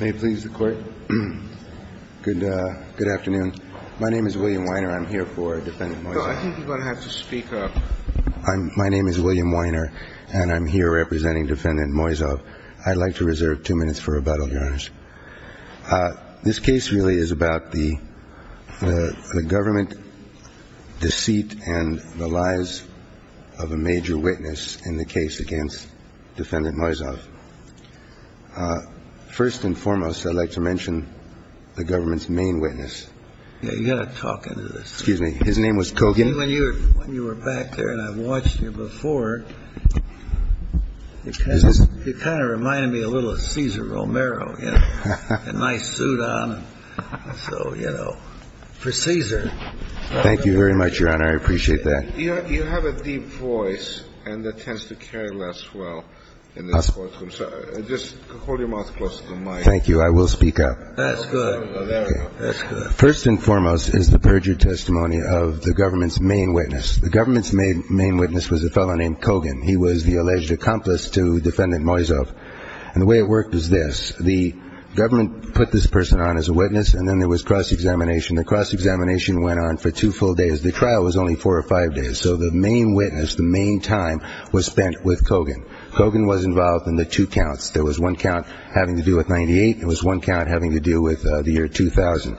May it please the Court. Good afternoon. My name is William Weiner. I'm here for Defendant Moiseev. No, I think you're going to have to speak up. My name is William Weiner, and I'm here representing Defendant Moiseev. I'd like to reserve two minutes for rebuttal, Your Honors. This case really is about the government deceit and the lies of a major witness in the case against Defendant Moiseev. First and foremost, I'd like to mention the government's main witness. You've got to talk into this. Excuse me. His name was Kogan. When you were back there and I watched you before, it kind of reminded me a little of Cesar Romero. A nice suit on. So, you know, for Cesar. Thank you very much, Your Honor. I appreciate that. You have a deep voice and that tends to carry less well in this courtroom. So just hold your mouth close to the mic. Thank you. I will speak up. First and foremost is the perjured testimony of the government's main witness. The government's main witness was a fellow named Kogan. He was the alleged accomplice to the crime. Kogan went on for two full days. The trial was only four or five days. So the main witness, the main time was spent with Kogan. Kogan was involved in the two counts. There was one count having to do with 98. There was one count having to do with the year 2000.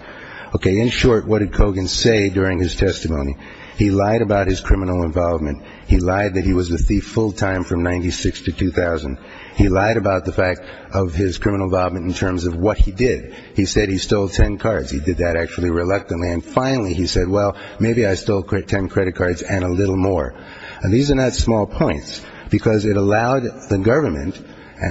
Okay. In short, what did Kogan say during his testimony? He lied about his criminal involvement. He lied that he was a thief full time from 96 to 2000. He lied about the fact of his criminal involvement in terms of what he did. He said he stole ten cards. He did that actually reluctantly. And finally he said, well, maybe I stole ten credit cards and a little more. And these are not small points because it allowed the government,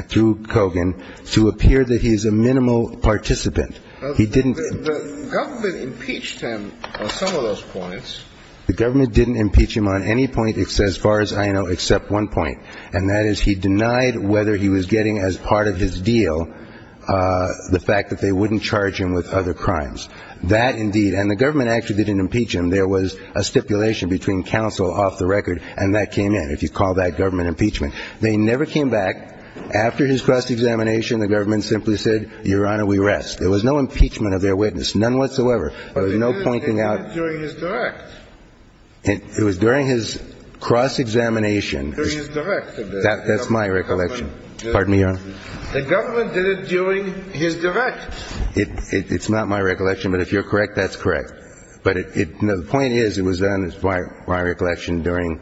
through Kogan, to appear that he's a minimal participant. He didn't – The government impeached him on some of those points. The government didn't impeach him on any point as far as I know except one point, and that is he denied whether he was getting as part of his deal the fact that they wouldn't charge him with other crimes. That, indeed – and the government actually didn't impeach him. There was a stipulation between counsel off the record, and that came in, if you call that government impeachment. They never came back. After his cross-examination, the government simply said, Your Honor, we rest. There was no impeachment of their witness, none whatsoever. There was no pointing out – It was during his direct. It was during his cross-examination. During his direct. That's my recollection. Pardon me, Your Honor. The government did it during his direct. It's not my recollection, but if you're correct, that's correct. But the point is it was done, is my recollection, during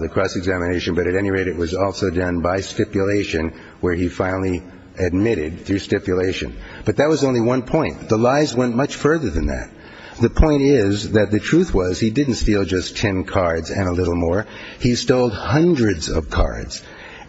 the cross-examination, but at any rate, it was also done by stipulation where he finally admitted through stipulation. But that was only one point. The lies went much further than that. The point is that the truth was he didn't steal just ten cards and a little more. He stole hundreds of cards,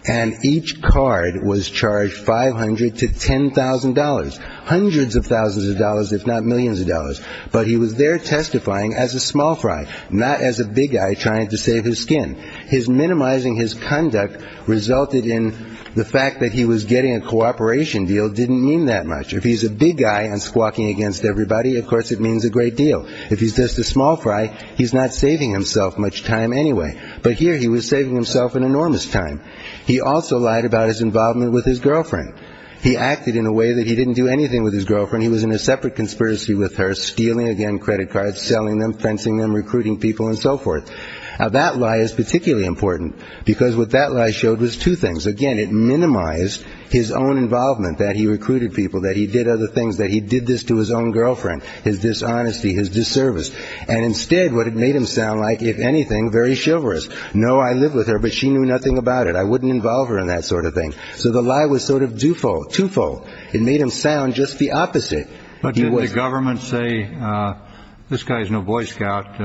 and each card was charged $500 to $10,000. Hundreds of thousands of dollars, if not millions of dollars. But he was there testifying as a small fry, not as a big guy trying to save his skin. His minimizing his conduct resulted in the fact that he was getting a cooperation deal didn't mean that much. If he's a big guy and squawking against everybody, of course it means a great deal. If he's just a small fry, he's not saving himself much time anyway. But here he was saving himself an enormous time. He also lied about his involvement with his girlfriend. He acted in a way that he didn't do anything with his girlfriend. He was in a separate conspiracy with her, stealing, again, credit cards, selling them, fencing them, recruiting people, and so forth. Now, that lie is particularly important because what that lie showed was two things. Again, it minimized his own involvement, that he recruited people, that he did other things, that he did this to his own girlfriend, his dishonesty, his disservice. And instead, what it made him sound like, if anything, very chivalrous. No, I live with her, but she knew nothing about it. I wouldn't involve her in that sort of thing. So the lie was sort of twofold. It made him sound just the opposite. But did the government say, this guy is no Boy Scout,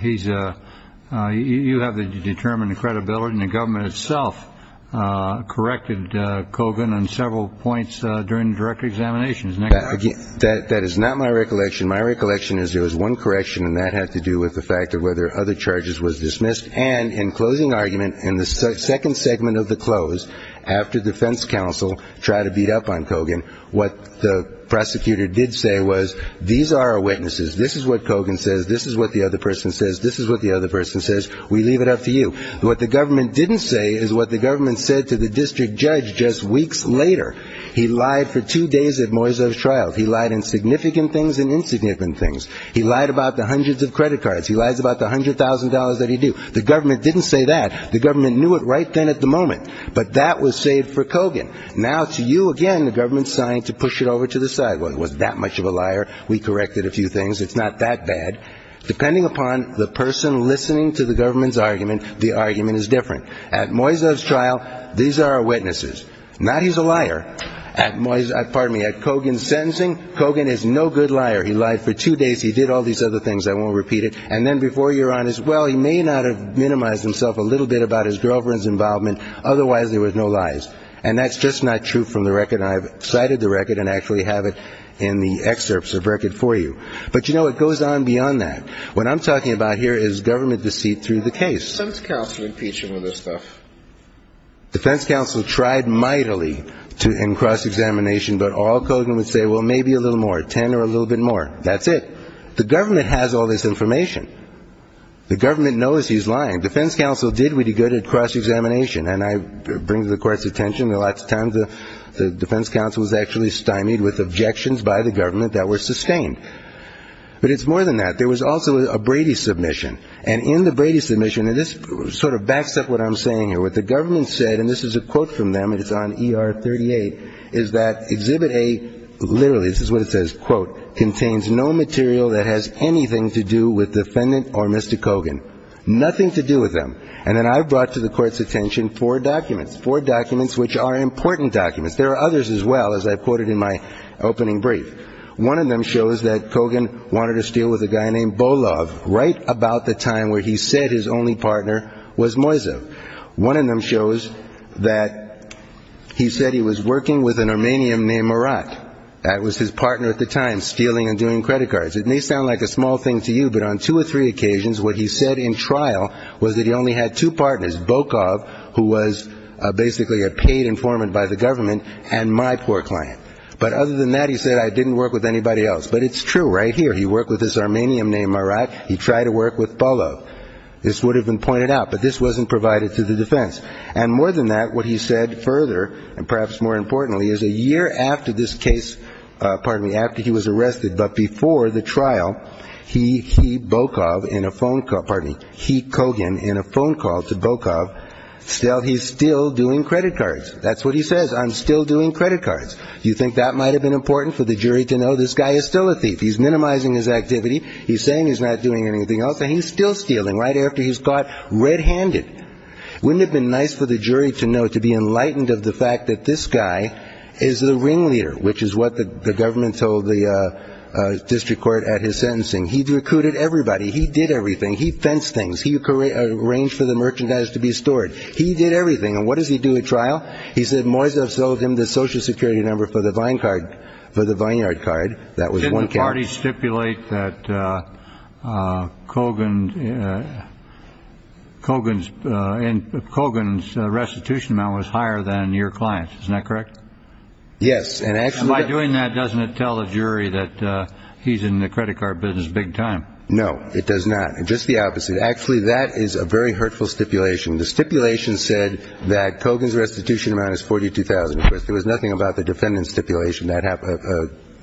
you have to determine the credibility. And the government itself corrected Kogan on several points during direct examinations. That is not my recollection. My recollection is there was one correction, and that had to do with the fact of whether other charges was dismissed. And in closing argument, in the second segment of the close, after defense counsel tried to beat up on Kogan, what the prosecutor did say was, these are our witnesses. This is what Kogan says. This is what the other person says. This is what the other person says. We leave it up to you. What the government didn't say is what the government said to the district judge just weeks later. He lied for two days at Moisev's trial. He lied in significant things and insignificant things. He lied about the hundreds of credit cards. He lies about the $100,000 that he do. The government didn't say that. The government knew it right then at the moment. But that was saved for Kogan. Now to you again, the government signed to push it over to the side. Well, it was that much of a liar. We corrected a few things. It's not that bad. Depending upon the person listening to the government's argument, the argument is different. At Moisev's trial, these are our witnesses. Not he's a liar. At Kogan's sentencing, Kogan is no good liar. He lied for two days. He did all these other things. I won't repeat it. And then before you're on as well, he may not have minimized himself a little bit about his girlfriend's involvement. Otherwise, there was no lies. And that's just not true from the record. I've cited the record and actually have it in the excerpts of record for you. But, you know, it goes on beyond that. What I'm talking about here is government deceit through the case. The defense counsel tried mightily in cross-examination, but all Kogan would say, well, maybe a little more, 10 or a little bit more. That's it. The government has all this information. The government knows he's lying. Defense counsel did really good at cross-examination. And I bring to the Court's attention that lots of times the defense counsel was actually stymied with objections by the government that were sustained. But it's more than that. There was also a Brady submission. And in the Brady submission, and this sort of backs up what I'm saying here, what the government said, and this is a quote from them, and it's on ER 38, is that Exhibit A, literally, this is what it says, quote, contains no material that has anything to do with defendant or Mr. Kogan, nothing to do with them. And then I've brought to the Court's attention four documents, four documents which are important documents. There are others as well, as I've quoted in my opening brief. One of them shows that Kogan wanted to steal with a guy named Bolov right about the time where he said his only partner was Moisev. One of them shows that he said he was working with an Armenian named Marat. That was his partner at the time, stealing and doing credit cards. It may sound like a small thing to you, but on two or three occasions what he said in trial was that he only had two partners, Bokov, who was basically a paid informant by the government, and my poor client. But other than that, he said, I didn't work with anybody else. But it's true right here. He worked with this Armenian named Marat. He tried to work with Bolov. This would have been pointed out, but this wasn't provided to the defense. And more than that, what he said further, and perhaps more importantly, is a year after this case, pardon me, after he was arrested but before the trial, he, he, Bokov, in a phone call, pardon me, he, Kogan, in a phone call to Bokov, still, he's still doing credit cards. That's what he says. I'm still doing credit cards. Do you think that might have been important for the jury to know this guy is still a thief? He's minimizing his activity. He's saying he's not doing anything else, and he's still stealing right after he's caught red-handed. Wouldn't it have been nice for the jury to know, to be enlightened of the fact that this guy is the ringleader, which is what the government told the district court at his sentencing. He recruited everybody. He did everything. He fenced things. He arranged for the merchandise to be stored. He did everything. And what does he do at trial? He said Moisev sold him the Social Security number for the Vineyard card. That was one case. Did the party stipulate that Kogan's restitution amount was higher than your client's? Isn't that correct? Yes. And by doing that, doesn't it tell the jury that he's in the credit card business big time? No, it does not. Just the opposite. Actually, that is a very hurtful stipulation. The stipulation said that Kogan's restitution amount is $42,000. There was nothing about the defendant's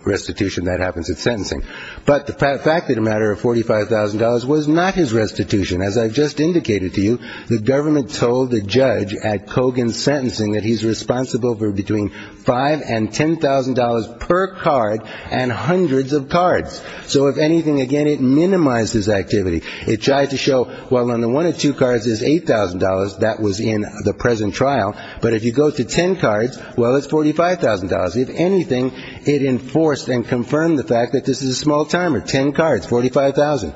restitution that happens at sentencing. But the fact that a matter of $45,000 was not his restitution, as I've just indicated to you, the government told the judge at Kogan's sentencing that he's responsible for between $5,000 and $10,000 per card and hundreds of cards. So if anything, again, it minimized his activity. It tried to show, well, on the one of two cards is $8,000. That was in the present trial. But if you go to ten cards, well, it's $45,000. If anything, it enforced and confirmed the fact that this is a small timer. Ten cards, $45,000.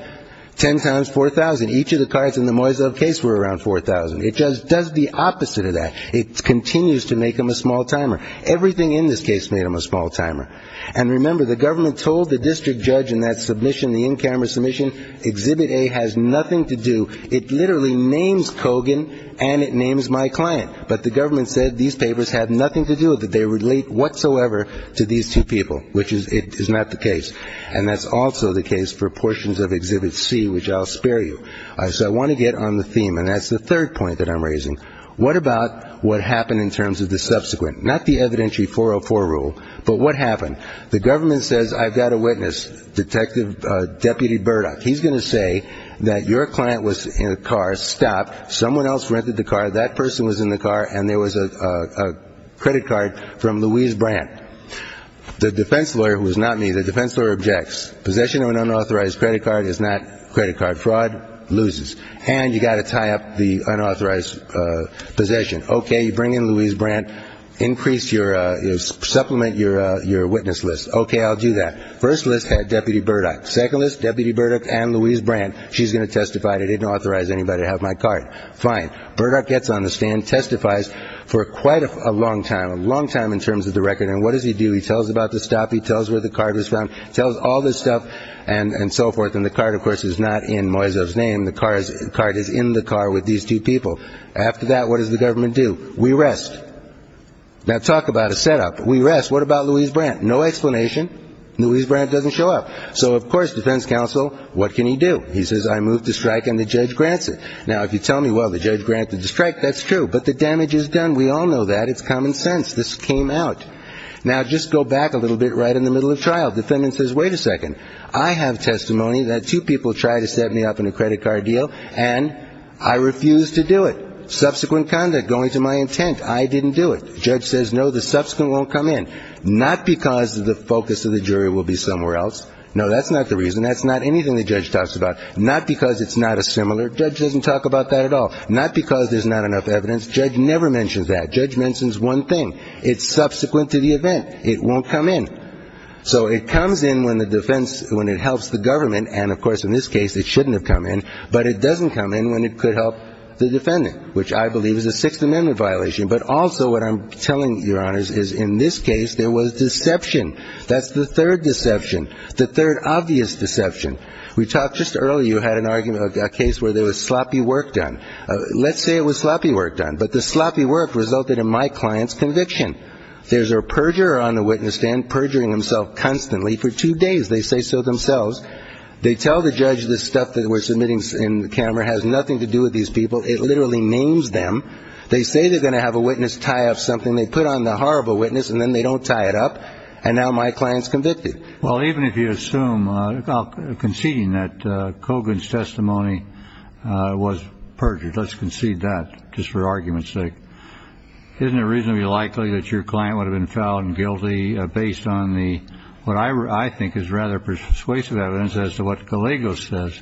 Ten times $4,000. Each of the cards in the Moisev case were around $4,000. It does the opposite of that. It continues to make him a small timer. Everything in this case made him a small timer. And remember, the government told the district judge in that submission, the in-camera submission, Exhibit A has nothing to do, it literally names Kogan and it names my client. But the government said these papers have nothing to do with it. They relate whatsoever to these two people, which is not the case. And that's also the case for portions of Exhibit C, which I'll spare you. So I want to get on the theme, and that's the third point that I'm raising. What about what happened in terms of the subsequent? Not the evidentiary 404 rule, but what happened? The government says, I've got a witness, Detective Deputy Burdock. He's going to say that your client was in a car, stopped, someone else rented the car, that person was in the car, and there was a credit card from Louise Brandt. The defense lawyer, who is not me, the defense lawyer objects. Possession of an unauthorized credit card is not a credit card. Fraud loses. And you've got to tie up the unauthorized possession. Okay, you bring in Louise Brandt, supplement your witness list. Okay, I'll do that. First list, Deputy Burdock. Second list, Deputy Burdock and Louise Brandt. She's going to testify that I didn't authorize anybody to have my card. Fine. Burdock gets on the stand, testifies for quite a long time, a long time in terms of the record. And what does he do? He tells about the stop. He tells where the card was found. He tells all this stuff and so forth. And the card, of course, is not in Moisev's name. The card is in the car with these two people. After that, what does the government do? We rest. Now, talk about a setup. We rest. What about Louise Brandt? No explanation. Louise Brandt doesn't show up. So, of course, defense counsel, what can he do? He says, I move to strike and the judge grants it. Now, if you tell me, well, the judge granted the strike, that's true. But the damage is done. We all know that. It's common sense. This came out. Now, just go back a little bit right in the middle of trial. The defendant says, wait a second. I have testimony that two people tried to set me up in a credit card deal and I refused to do it. Subsequent conduct, going to my intent. I didn't do it. The judge says, no, the subsequent won't come in. Not because the focus of the jury will be somewhere else. No, that's not the reason. That's not anything the judge talks about. Not because it's not a similar. The judge doesn't talk about that at all. Not because there's not enough evidence. The judge never mentions that. The judge mentions one thing. It's subsequent to the event. It won't come in. So it comes in when the defense, when it helps the government. And, of course, in this case it shouldn't have come in. But it doesn't come in when it could help the defendant, which I believe is a Sixth Amendment violation. But also what I'm telling you, Your Honors, is in this case there was deception. That's the third deception. The third obvious deception. We talked just earlier, you had an argument, a case where there was sloppy work done. Let's say it was sloppy work done. But the sloppy work resulted in my client's conviction. There's a perjurer on the witness stand perjuring himself constantly for two days. They say so themselves. They tell the judge this stuff that we're submitting in the camera has nothing to do with these people. It literally names them. They say they're going to have a witness tie up something. They put on the horrible witness, and then they don't tie it up. And now my client's convicted. Well, even if you assume, conceding that Kogan's testimony was perjured, let's concede that, just for argument's sake. Isn't it reasonably likely that your client would have been fouled and guilty based on what I think is rather persuasive evidence as to what Caligo says?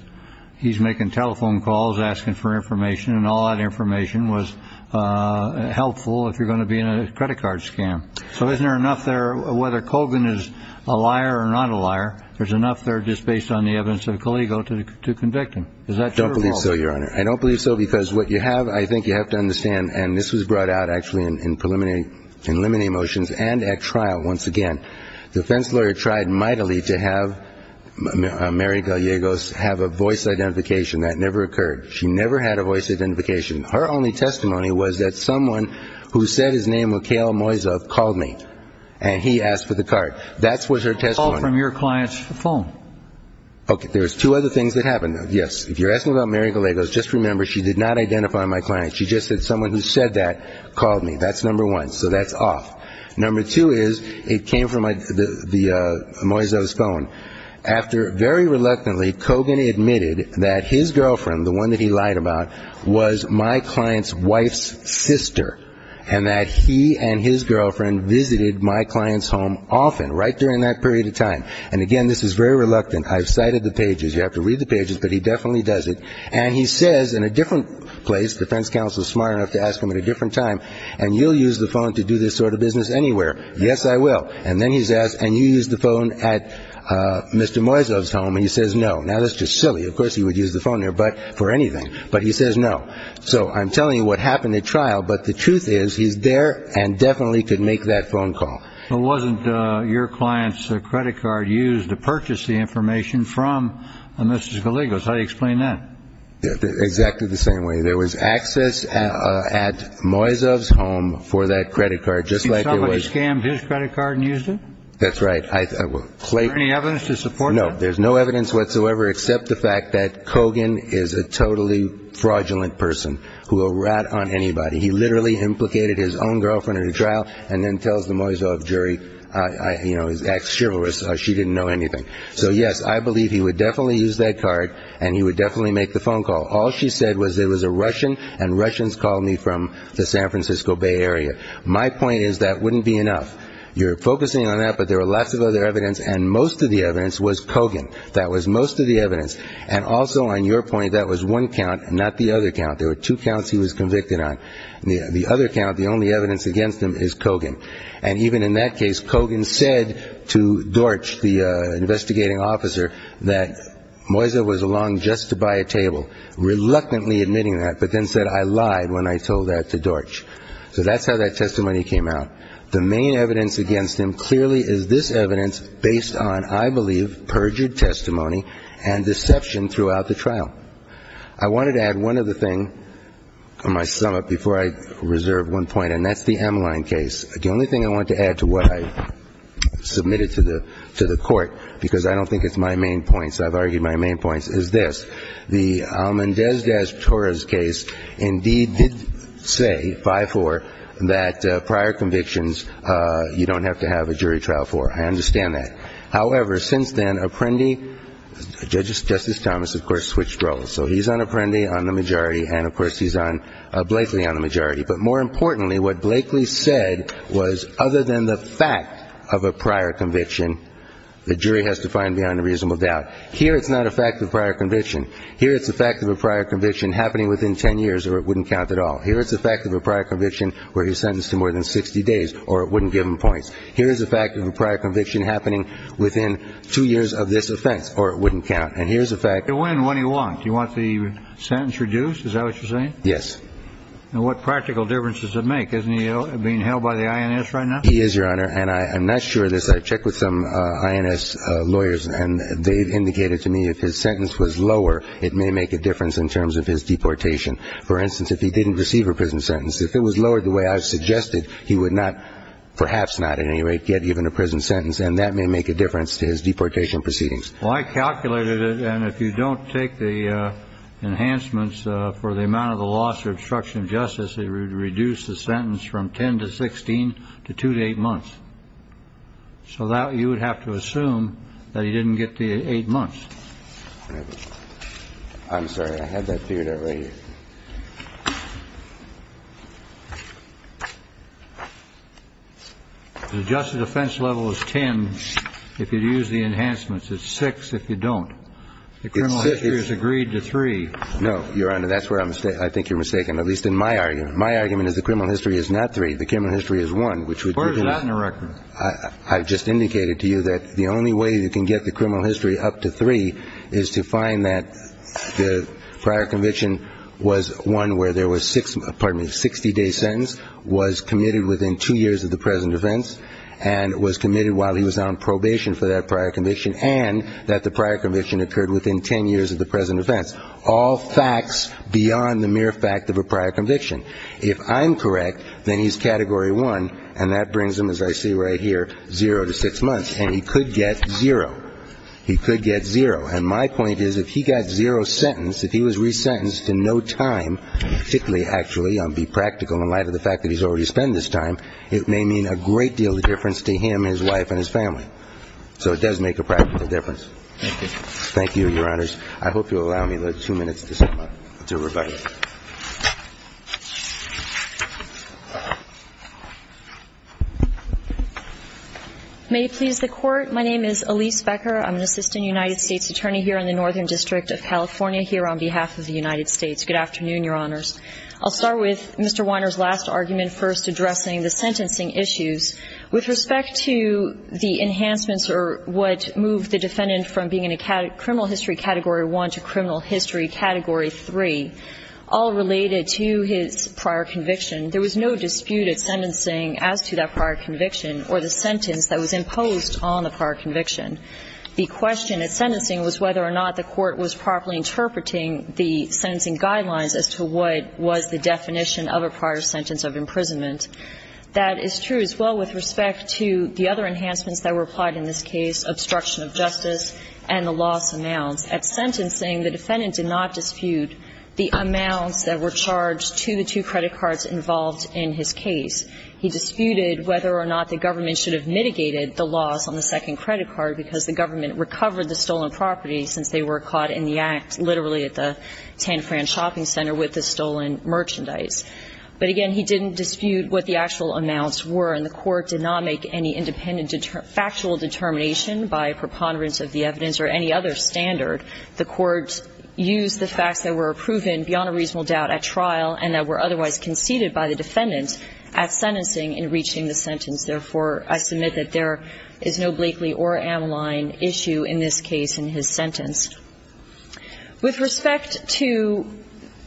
He's making telephone calls asking for information, and all that information was helpful if you're going to be in a credit card scam. So isn't there enough there, whether Kogan is a liar or not a liar, there's enough there just based on the evidence of Caligo to convict him? Is that true or false? I don't believe so, Your Honor. I don't believe so because what you have, I think you have to understand, and this was brought out actually in preliminary motions and at trial once again, defense lawyer tried mightily to have Mary Gallegos have a voice identification. That never occurred. She never had a voice identification. Her only testimony was that someone who said his name, Mikhail Moisev, called me, and he asked for the card. That was her testimony. Call from your client's phone. Okay. There's two other things that happened. Yes. If you're asking about Mary Gallegos, just remember she did not identify my client. She just said someone who said that called me. That's number one. So that's off. Number two is it came from Moisev's phone. After very reluctantly Kogan admitted that his girlfriend, the one that he lied about, was my client's wife's sister, and that he and his girlfriend visited my client's home often, right during that period of time. And, again, this is very reluctant. I've cited the pages. You have to read the pages, but he definitely does it. And he says in a different place, the defense counsel is smart enough to ask him at a different time, and you'll use the phone to do this sort of business anywhere. Yes, I will. And then he's asked, and you used the phone at Mr. Moisev's home, and he says no. Now, that's just silly. Of course he would use the phone there for anything. But he says no. So I'm telling you what happened at trial, but the truth is he's there and definitely could make that phone call. So it wasn't your client's credit card used to purchase the information from Mrs. Gallegos. How do you explain that? Exactly the same way. There was access at Moisev's home for that credit card, just like there was. Somebody scammed his credit card and used it? That's right. Is there any evidence to support that? No, there's no evidence whatsoever except the fact that Kogan is a totally fraudulent person who will rat on anybody. He literally implicated his own girlfriend at a trial and then tells the Moisev jury, you know, he's act chivalrous. She didn't know anything. So, yes, I believe he would definitely use that card, and he would definitely make the phone call. All she said was it was a Russian, and Russians called me from the San Francisco Bay Area. My point is that wouldn't be enough. You're focusing on that, but there are lots of other evidence, and most of the evidence was Kogan. That was most of the evidence. And also on your point, that was one count, not the other count. There were two counts he was convicted on. The other count, the only evidence against him is Kogan. And even in that case, Kogan said to Dorch, the investigating officer, that Moisev was along just to buy a table, reluctantly admitting that, but then said, I lied when I told that to Dorch. So that's how that testimony came out. The main evidence against him clearly is this evidence based on, I believe, perjured testimony and deception throughout the trial. I wanted to add one other thing on my sum up before I reserve one point, and that's the Emline case. The only thing I wanted to add to what I submitted to the court, because I don't think it's my main point, so I've argued my main point, is this. The Almendez-Torres case indeed did say, 5-4, that prior convictions you don't have to have a jury trial for. I understand that. However, since then, Apprendi, Justice Thomas, of course, switched roles. So he's on Apprendi on the majority, and, of course, he's on Blakely on the majority. But more importantly, what Blakely said was, other than the fact of a prior conviction, the jury has to find beyond a reasonable doubt. Here it's not a fact of prior conviction. Here it's a fact of a prior conviction happening within ten years, or it wouldn't count at all. Here it's a fact of a prior conviction where he's sentenced to more than 60 days, or it wouldn't give him points. Here it's a fact of a prior conviction happening within two years of this offense, or it wouldn't count. And here's a fact. And when and when he want. Do you want the sentence reduced? Is that what you're saying? Yes. And what practical difference does it make? Isn't he being held by the INS right now? He is, Your Honor. And I'm not sure of this. I've checked with some INS lawyers, and they've indicated to me if his sentence was lower, it may make a difference in terms of his deportation. For instance, if he didn't receive a prison sentence, if it was lowered the way I've suggested, he would not, perhaps not at any rate, get even a prison sentence. And that may make a difference to his deportation proceedings. Well, I calculated it. And if you don't take the enhancements for the amount of the loss or obstruction of justice, it would reduce the sentence from 10 to 16 to 2 to 8 months. So that you would have to assume that he didn't get the 8 months. I'm sorry. I had that figured out right here. The justice defense level is 10 if you use the enhancements. It's 6 if you don't. The criminal history is agreed to 3. No, Your Honor. That's where I think you're mistaken, at least in my argument. My argument is the criminal history is not 3. The criminal history is 1, which would reduce. Where is that in the record? I've just indicated to you that the only way you can get the criminal history up to 3 is to find that the prior conviction was one where there was 60-day sentence, was committed within 2 years of the present defense, and was committed while he was on probation for that prior conviction, and that the prior conviction occurred within 10 years of the present defense. All facts beyond the mere fact of a prior conviction. If I'm correct, then he's Category 1, and that brings him, as I see right here, 0 to 6 months. And he could get 0. He could get 0. And my point is if he got 0 sentence, if he was resentenced in no time, particularly, actually, be practical in light of the fact that he's already spent this time, it may mean a great deal of difference to him, his wife, and his family. So it does make a practical difference. Thank you. Thank you, Your Honors. I hope you'll allow me two minutes to revise. May it please the Court. My name is Elise Becker. I'm an Assistant United States Attorney here in the Northern District of California here on behalf of the United States. Good afternoon, Your Honors. I'll start with Mr. Weiner's last argument first addressing the sentencing issues. With respect to the enhancements or what moved the defendant from being in a criminal history Category 1 to criminal history Category 3, all related to his prior conviction, there was no dispute at sentencing as to that prior conviction or the sentence that was imposed on the prior conviction. The question at sentencing was whether or not the Court was properly interpreting the sentencing guidelines as to what was the definition of a prior sentence of imprisonment. That is true as well with respect to the other enhancements that were applied in this case, obstruction of justice and the loss announced. At sentencing, the defendant did not dispute the amounts that were charged to the two credit cards involved in his case. He disputed whether or not the government should have mitigated the loss on the second credit card because the government recovered the stolen property since they were caught in the act literally at the 10-Fran shopping center with the stolen merchandise. But again, he didn't dispute what the actual amounts were, and the Court did not make any independent factual determination by preponderance of the evidence or any other standard. The Court used the facts that were proven beyond a reasonable doubt at trial and that were otherwise conceded by the defendant at sentencing in reaching the sentence. Therefore, I submit that there is no Blakely or Ameline issue in this case in his sentence. With respect to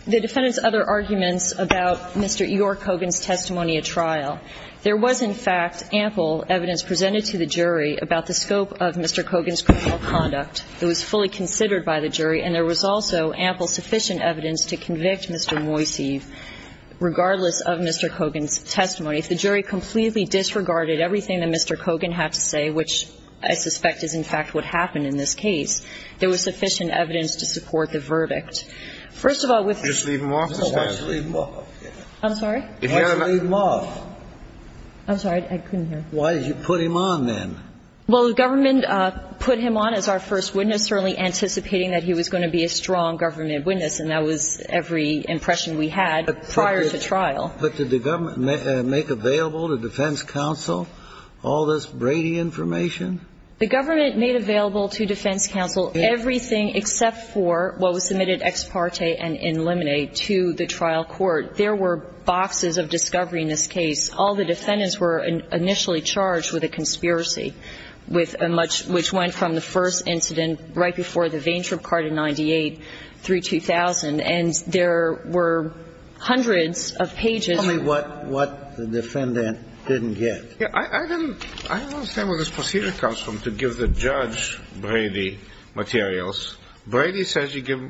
the defendant's other arguments about Mr. E.R. Cogan's testimony at trial, there was, in fact, ample evidence presented to the jury about the scope of Mr. Cogan's criminal conduct. It was fully considered by the jury, and there was also ample sufficient evidence to convict Mr. Moiseev regardless of Mr. Cogan's testimony. If the jury completely disregarded everything that Mr. Cogan had to say, which I suspect is, in fact, what happened in this case, there was sufficient evidence to support the verdict. First of all, with the ---- Just leave him off the stand. Just leave him off. I'm sorry? Leave him off. I'm sorry. I couldn't hear. Why did you put him on then? Well, the government put him on as our first witness, certainly anticipating that he was going to be a strong government witness, and that was every impression we had prior to trial. But did the government make available to defense counsel all this Brady information? The government made available to defense counsel everything except for what was submitted ex parte and in limine to the trial court. There were boxes of discovery in this case. All the defendants were initially charged with a conspiracy with a much ---- which went from the first incident right before the vane trip card in 98 through 2000. And there were hundreds of pages. Tell me what the defendant didn't get. I don't understand where this procedure comes from to give the judge Brady materials. Brady says you give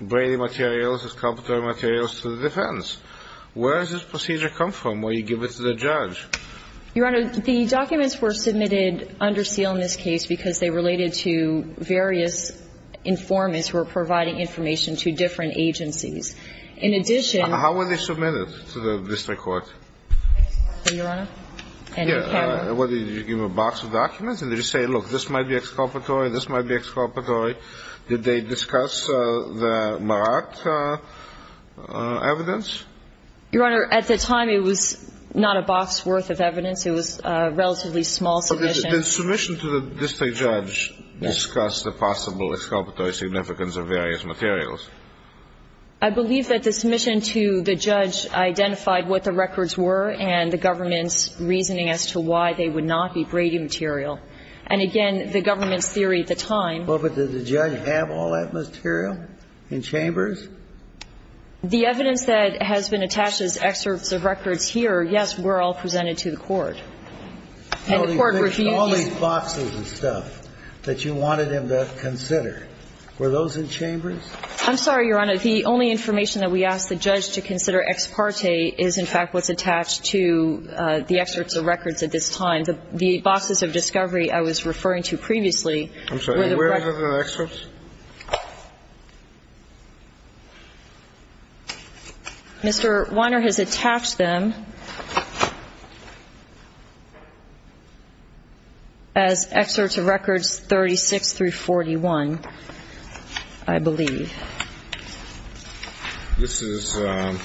Brady materials, his complimentary materials to the defense. Where does this procedure come from? Or you give it to the judge? Your Honor, the documents were submitted under seal in this case because they related to various informants who were providing information to different agencies. In addition ---- How were they submitted to the district court? Your Honor? Yes. Did you give them a box of documents? Did they say, look, this might be exculpatory, this might be exculpatory? Did they discuss the Marat evidence? Your Honor, at the time, it was not a box worth of evidence. It was a relatively small submission. Did the submission to the district judge discuss the possible exculpatory significance of various materials? I believe that the submission to the judge identified what the records were and the government's reasoning as to why they would not be Brady material. And again, the government's theory at the time ---- Well, but did the judge have all that material in chambers? The evidence that has been attached as excerpts of records here, yes, were all presented to the court. And the court reviewed these ---- All these boxes and stuff that you wanted him to consider, were those in chambers? I'm sorry, Your Honor. The only information that we asked the judge to consider ex parte is, in fact, what's attached to the excerpts of records at this time. I'm sorry. Mr. Weiner has attached them as excerpts of records 36 through 41, I believe. This is ----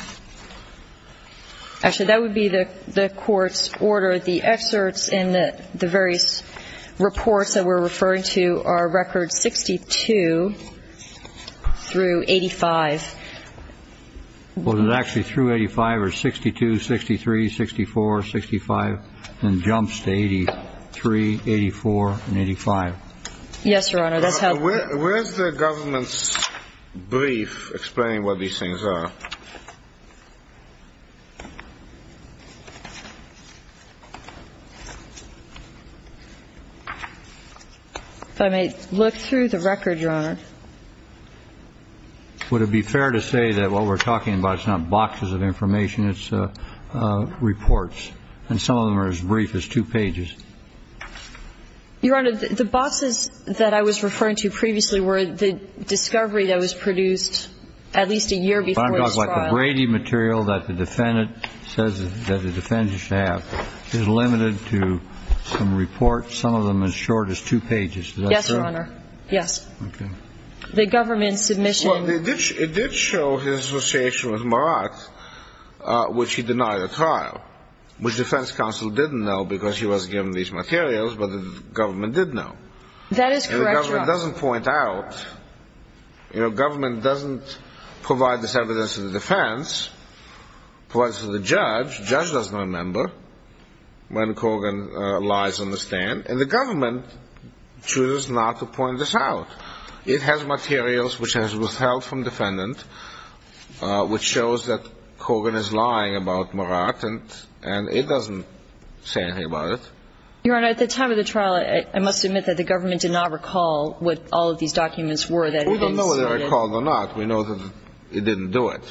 Actually, that would be the court's order. The excerpts in the various reports that we're referring to are records 62 through 85. Was it actually through 85 or 62, 63, 64, 65, and jumps to 83, 84, and 85? Yes, Your Honor, that's how ---- Where is the government's brief explaining what these things are? If I may look through the record, Your Honor. Would it be fair to say that what we're talking about is not boxes of information, it's reports, and some of them are as brief as two pages? Your Honor, the boxes that I was referring to previously were the discovery that was produced at least a year before this trial. I'm talking about the Brady material that the defendant says that the defendant is limited to some reports, some of them as short as two pages. Is that true? Yes, Your Honor. Yes. Okay. The government's submission ---- Well, it did show his association with Murat, which he denied at trial, which the defense counsel didn't know because he was given these materials, but the government did know. That is correct, Your Honor. The government doesn't point out, you know, government doesn't provide this evidence to the defense, provides it to the judge. The judge doesn't remember when Kogan lies on the stand, and the government chooses not to point this out. It has materials which has withheld from defendant, which shows that Kogan is lying about Murat, and it doesn't say anything about it. Your Honor, at the time of the trial, I must admit that the government did not recall what all of these documents were that had been submitted. We don't know whether it recalled or not. We know that it didn't do it.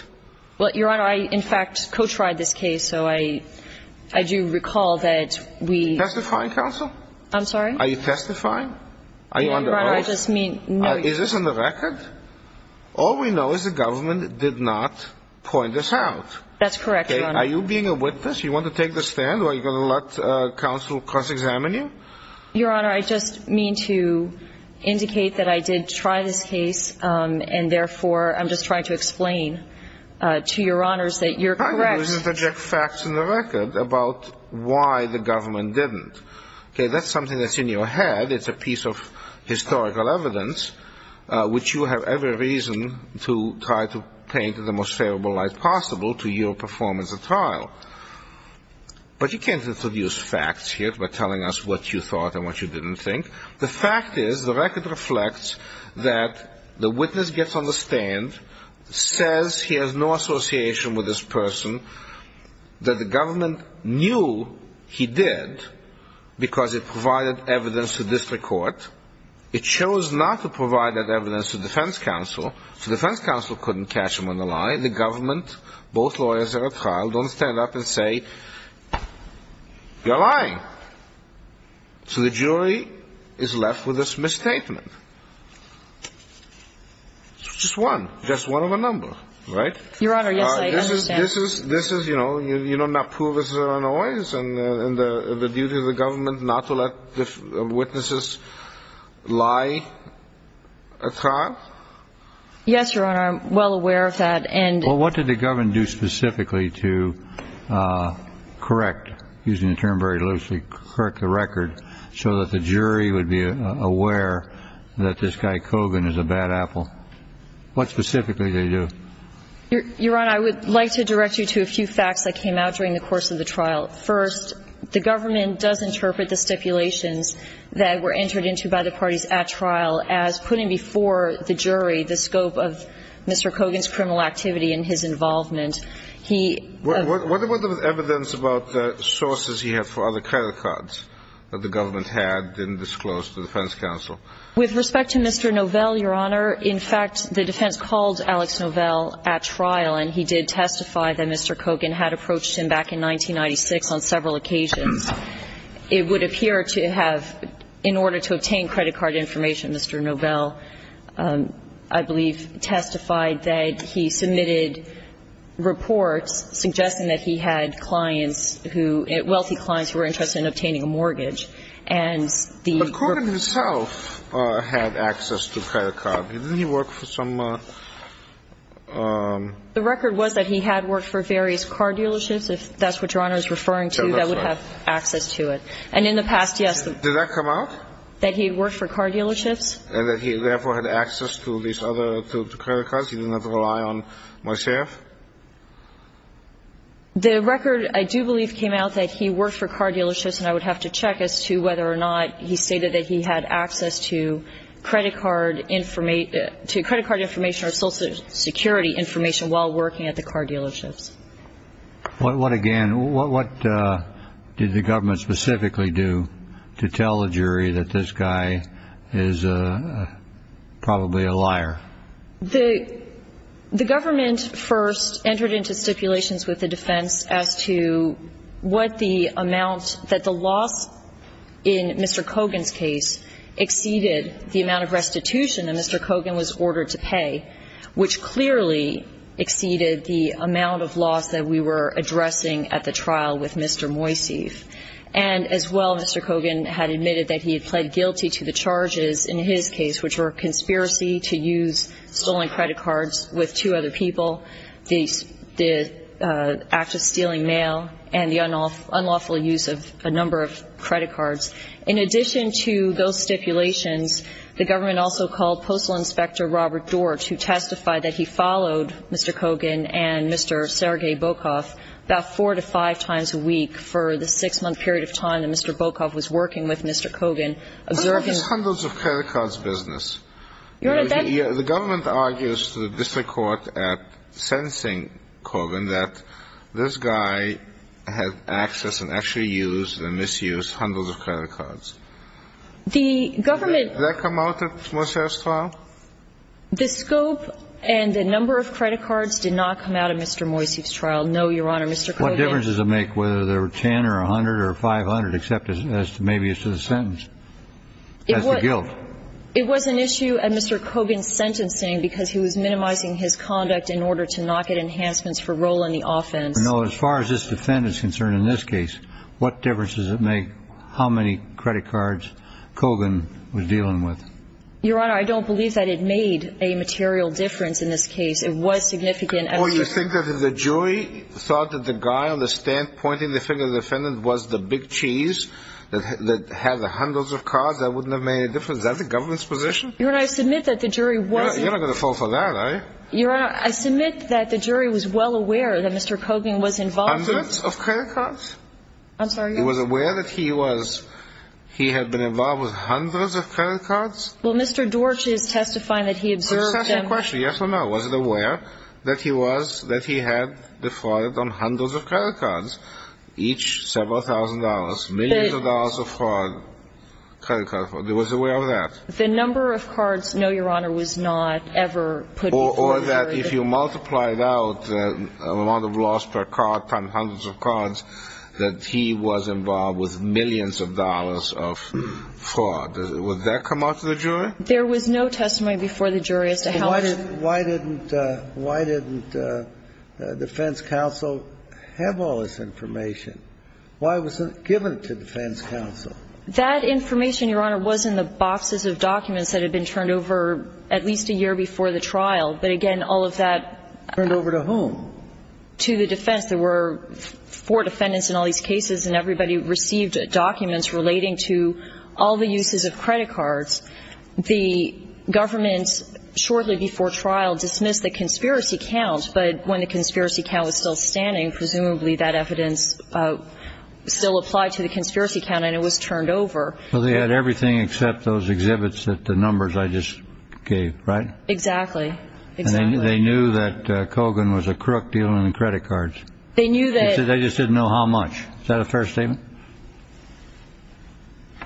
Well, Your Honor, I, in fact, co-tried this case, so I do recall that we ---- Are you testifying, counsel? I'm sorry? Are you testifying? Are you on the oath? Your Honor, I just mean ---- Is this on the record? All we know is the government did not point this out. That's correct, Your Honor. Are you being a witness? Do you want to take the stand, or are you going to let counsel cross-examine you? Your Honor, I just mean to indicate that I did try this case, and, therefore, I'm just trying to explain to Your Honors that you're correct. I'm going to interject facts in the record about why the government didn't. Okay? That's something that's in your head. It's a piece of historical evidence, which you have every reason to try to paint in the most favorable light possible to your performance at trial. But you can't introduce facts here by telling us what you thought and what you didn't think. The fact is, the record reflects that the witness gets on the stand, says he has no association with this person, that the government knew he did because it provided evidence to district court. It chose not to provide that evidence to defense counsel, so defense counsel couldn't catch him on the lie. The government, both lawyers that are at trial, don't stand up and say, you're lying. So the jury is left with this misstatement. It's just one, just one of a number, right? Your Honor, yes, I understand. This is, you know, you do not prove it's an annoyance, and the duty of the government not to let witnesses lie at trial? Yes, Your Honor, I'm well aware of that. Well, what did the government do specifically to correct, using the term very loosely, correct the record so that the jury would be aware that this guy Kogan is a bad apple? What specifically did they do? Your Honor, I would like to direct you to a few facts that came out during the course of the trial. First, the government does interpret the stipulations that were entered into by the parties at trial as putting before the jury the scope of Mr. Kogan's criminal activity and his involvement. He ---- What about the evidence about sources he had for other credit cards that the government had, didn't disclose to the defense counsel? With respect to Mr. Novell, Your Honor, in fact, the defense called Alex Novell at trial, and he did testify that Mr. Kogan had approached him back in 1996 on several occasions. It would appear to have, in order to obtain credit card information, Mr. Novell, I believe, testified that he submitted reports suggesting that he had clients who ---- wealthy clients who were interested in obtaining a mortgage. And the ---- But Kogan himself had access to credit cards. Didn't he work for some ---- The record was that he had worked for various car dealerships, if that's what Your Honor is referring to. That's right. That would have access to it. And in the past, yes. Did that come out? That he had worked for car dealerships. And that he, therefore, had access to these other credit cards? He did not rely on myself? The record, I do believe, came out that he worked for car dealerships, and I would have to check as to whether or not he stated that he had access to credit card information or social security information while working at the car dealerships. What, again, what did the government specifically do to tell the jury that this guy is probably a liar? The government first entered into stipulations with the defense as to what the amount that the loss in Mr. Kogan's case exceeded the amount of restitution that Mr. Kogan was entitled to. And as well, Mr. Kogan had admitted that he had pled guilty to the charges in his case, which were conspiracy to use stolen credit cards with two other people, the act of stealing mail, and the unlawful use of a number of credit cards. In addition to those stipulations, the government also called Postal Inspector Robert Dorch, who testified that he followed Mr. Kogan and Mr. Sergei Bokov about four to five times a week for the six-month period of time that Mr. Bokov was working with Mr. Kogan, observing the ---- What about this hundreds of credit cards business? Your Honor, that ---- The government argues to the district court at sentencing Kogan that this guy had access and actually used and misused hundreds of credit cards. The government ---- Did that come out at Moser's trial? The scope and the number of credit cards did not come out at Mr. Moiseev's trial. No, Your Honor. Mr. Kogan ---- What difference does it make whether there were 10 or 100 or 500, except as to maybe as to the sentence, as to guilt? It was an issue at Mr. Kogan's sentencing because he was minimizing his conduct in order to not get enhancements for role in the offense. No. As far as this defendant is concerned in this case, what difference does it make how many credit cards Kogan was dealing with? Your Honor, I don't believe that it made a material difference in this case. It was significant ---- Oh, you think that if the jury thought that the guy on the stand pointing the finger at the defendant was the big cheese that had the hundreds of cards, that wouldn't have made a difference? Is that the government's position? Your Honor, I submit that the jury wasn't ---- You're not going to fall for that, are you? Your Honor, I submit that the jury was well aware that Mr. Kogan was involved ---- Hundreds of credit cards? I'm sorry. He was aware that he was ---- he had been involved with hundreds of credit cards? Well, Mr. Dorch is testifying that he observed them ---- Question. Yes or no? Was it aware that he was ---- that he had defrauded on hundreds of credit cards, each several thousand dollars, millions of dollars of fraud, credit card fraud? There was aware of that? The number of cards, no, Your Honor, was not ever put before the jury. Or that if you multiplied out the amount of loss per card times hundreds of cards, that he was involved with millions of dollars of fraud. Would that come out to the jury? There was no testimony before the jury as to how much ---- Why didn't defense counsel have all this information? Why wasn't it given to defense counsel? That information, Your Honor, was in the boxes of documents that had been turned over at least a year before the trial. But again, all of that ---- Turned over to whom? To the defense. There were four defendants in all these cases, and everybody received documents relating to all the uses of credit cards. The government, shortly before trial, dismissed the conspiracy count. But when the conspiracy count was still standing, presumably that evidence still applied to the conspiracy count and it was turned over. Well, they had everything except those exhibits that the numbers I just gave, right? Exactly. Exactly. They knew that Kogan was a crook dealing in credit cards. They knew that ---- They just didn't know how much. Is that a fair statement?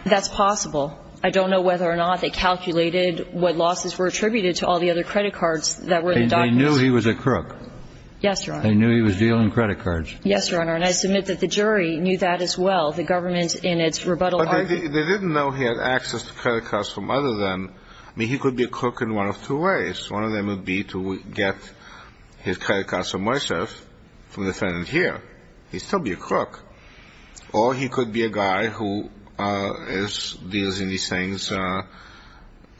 That's possible. I don't know whether or not they calculated what losses were attributed to all the other credit cards that were in the documents. They knew he was a crook. Yes, Your Honor. They knew he was dealing credit cards. Yes, Your Honor. And I submit that the jury knew that as well. The government in its rebuttal argument ---- But they didn't know he had access to credit cards from other than ---- I mean, he could be a crook in one of two ways. One of them would be to get his credit cards from Moiseff, from the defendant here. He'd still be a crook. Or he could be a guy who is dealing in these things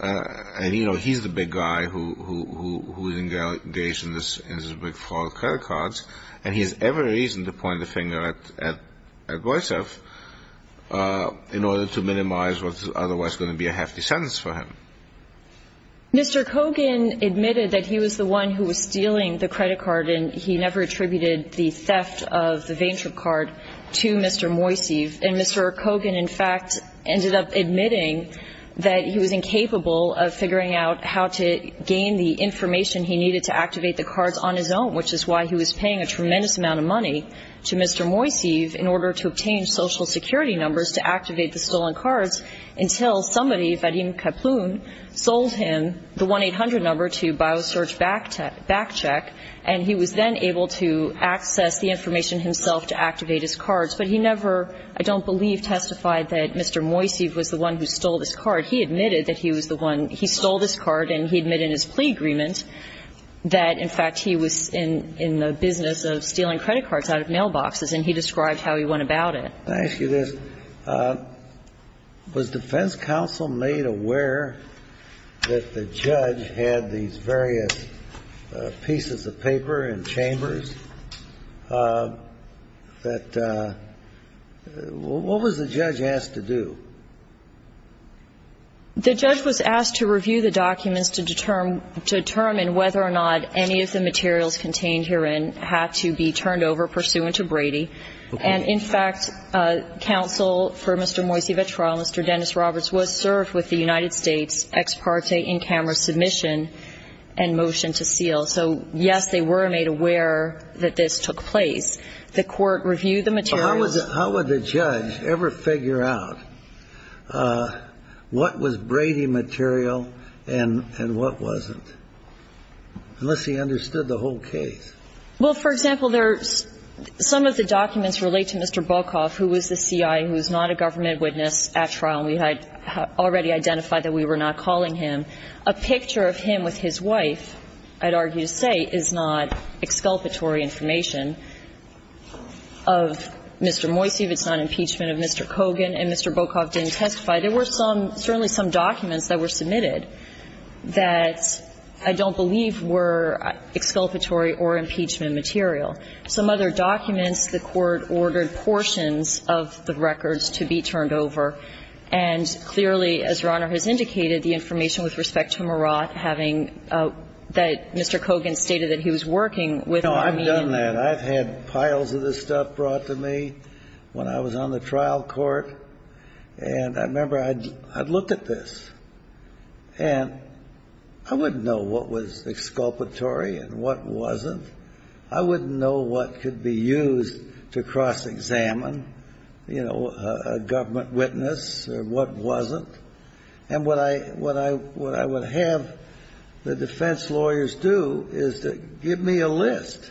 and, you know, he's the big guy who is engaged in this big fraud of credit cards and he has every reason to point the finger at Moiseff in order to minimize what's otherwise going to be a hefty sentence for him. Mr. Kogan admitted that he was the one who was stealing the credit card and he never attributed the theft of the Vayntrup card to Mr. Moiseff. And Mr. Kogan, in fact, ended up admitting that he was incapable of figuring out how to gain the information he needed to activate the cards on his own, which is why he was paying a tremendous amount of money to Mr. Moiseff in order to obtain Social Security numbers to activate the stolen cards until somebody, Vadim Kaplun, sold him the 1-800 number to BioSearch Backcheck and he was then able to access the information himself to activate his cards. But he never, I don't believe, testified that Mr. Moiseff was the one who stole this card. He admitted that he was the one he stole this card and he admitted in his plea agreement that, in fact, he was in the business of stealing credit cards out of mailboxes and he described how he went about it. I ask you this. Was defense counsel made aware that the judge had these various pieces of paper in chambers that what was the judge asked to do? The judge was asked to review the documents to determine whether or not any of the materials contained herein had to be turned over pursuant to Brady. And, in fact, counsel for Mr. Moiseff at trial, Mr. Dennis Roberts, was served with the United States ex parte in-camera submission and motion to seal. So, yes, they were made aware that this took place. The court reviewed the materials. How would the judge ever figure out what was Brady material and what wasn't, unless he understood the whole case? Well, for example, there are some of the documents relate to Mr. Bokoff, who was the C.I., who was not a government witness at trial. We had already identified that we were not calling him. A picture of him with his wife, I'd argue to say, is not exculpatory information of Mr. Moiseff. It's not impeachment of Mr. Kogan. And Mr. Bokoff didn't testify. There were some, certainly some documents that were submitted that I don't believe were exculpatory or impeachment material. Some other documents, the court ordered portions of the records to be turned over. And clearly, as Your Honor has indicated, the information with respect to Murat having that Mr. Kogan stated that he was working with R.E.M. No, I've done that. I've had piles of this stuff brought to me when I was on the trial court. And I remember I'd look at this. And I wouldn't know what was exculpatory and what wasn't. I wouldn't know what could be used to cross-examine, you know, a government witness or what wasn't. And what I would have the defense lawyers do is to give me a list.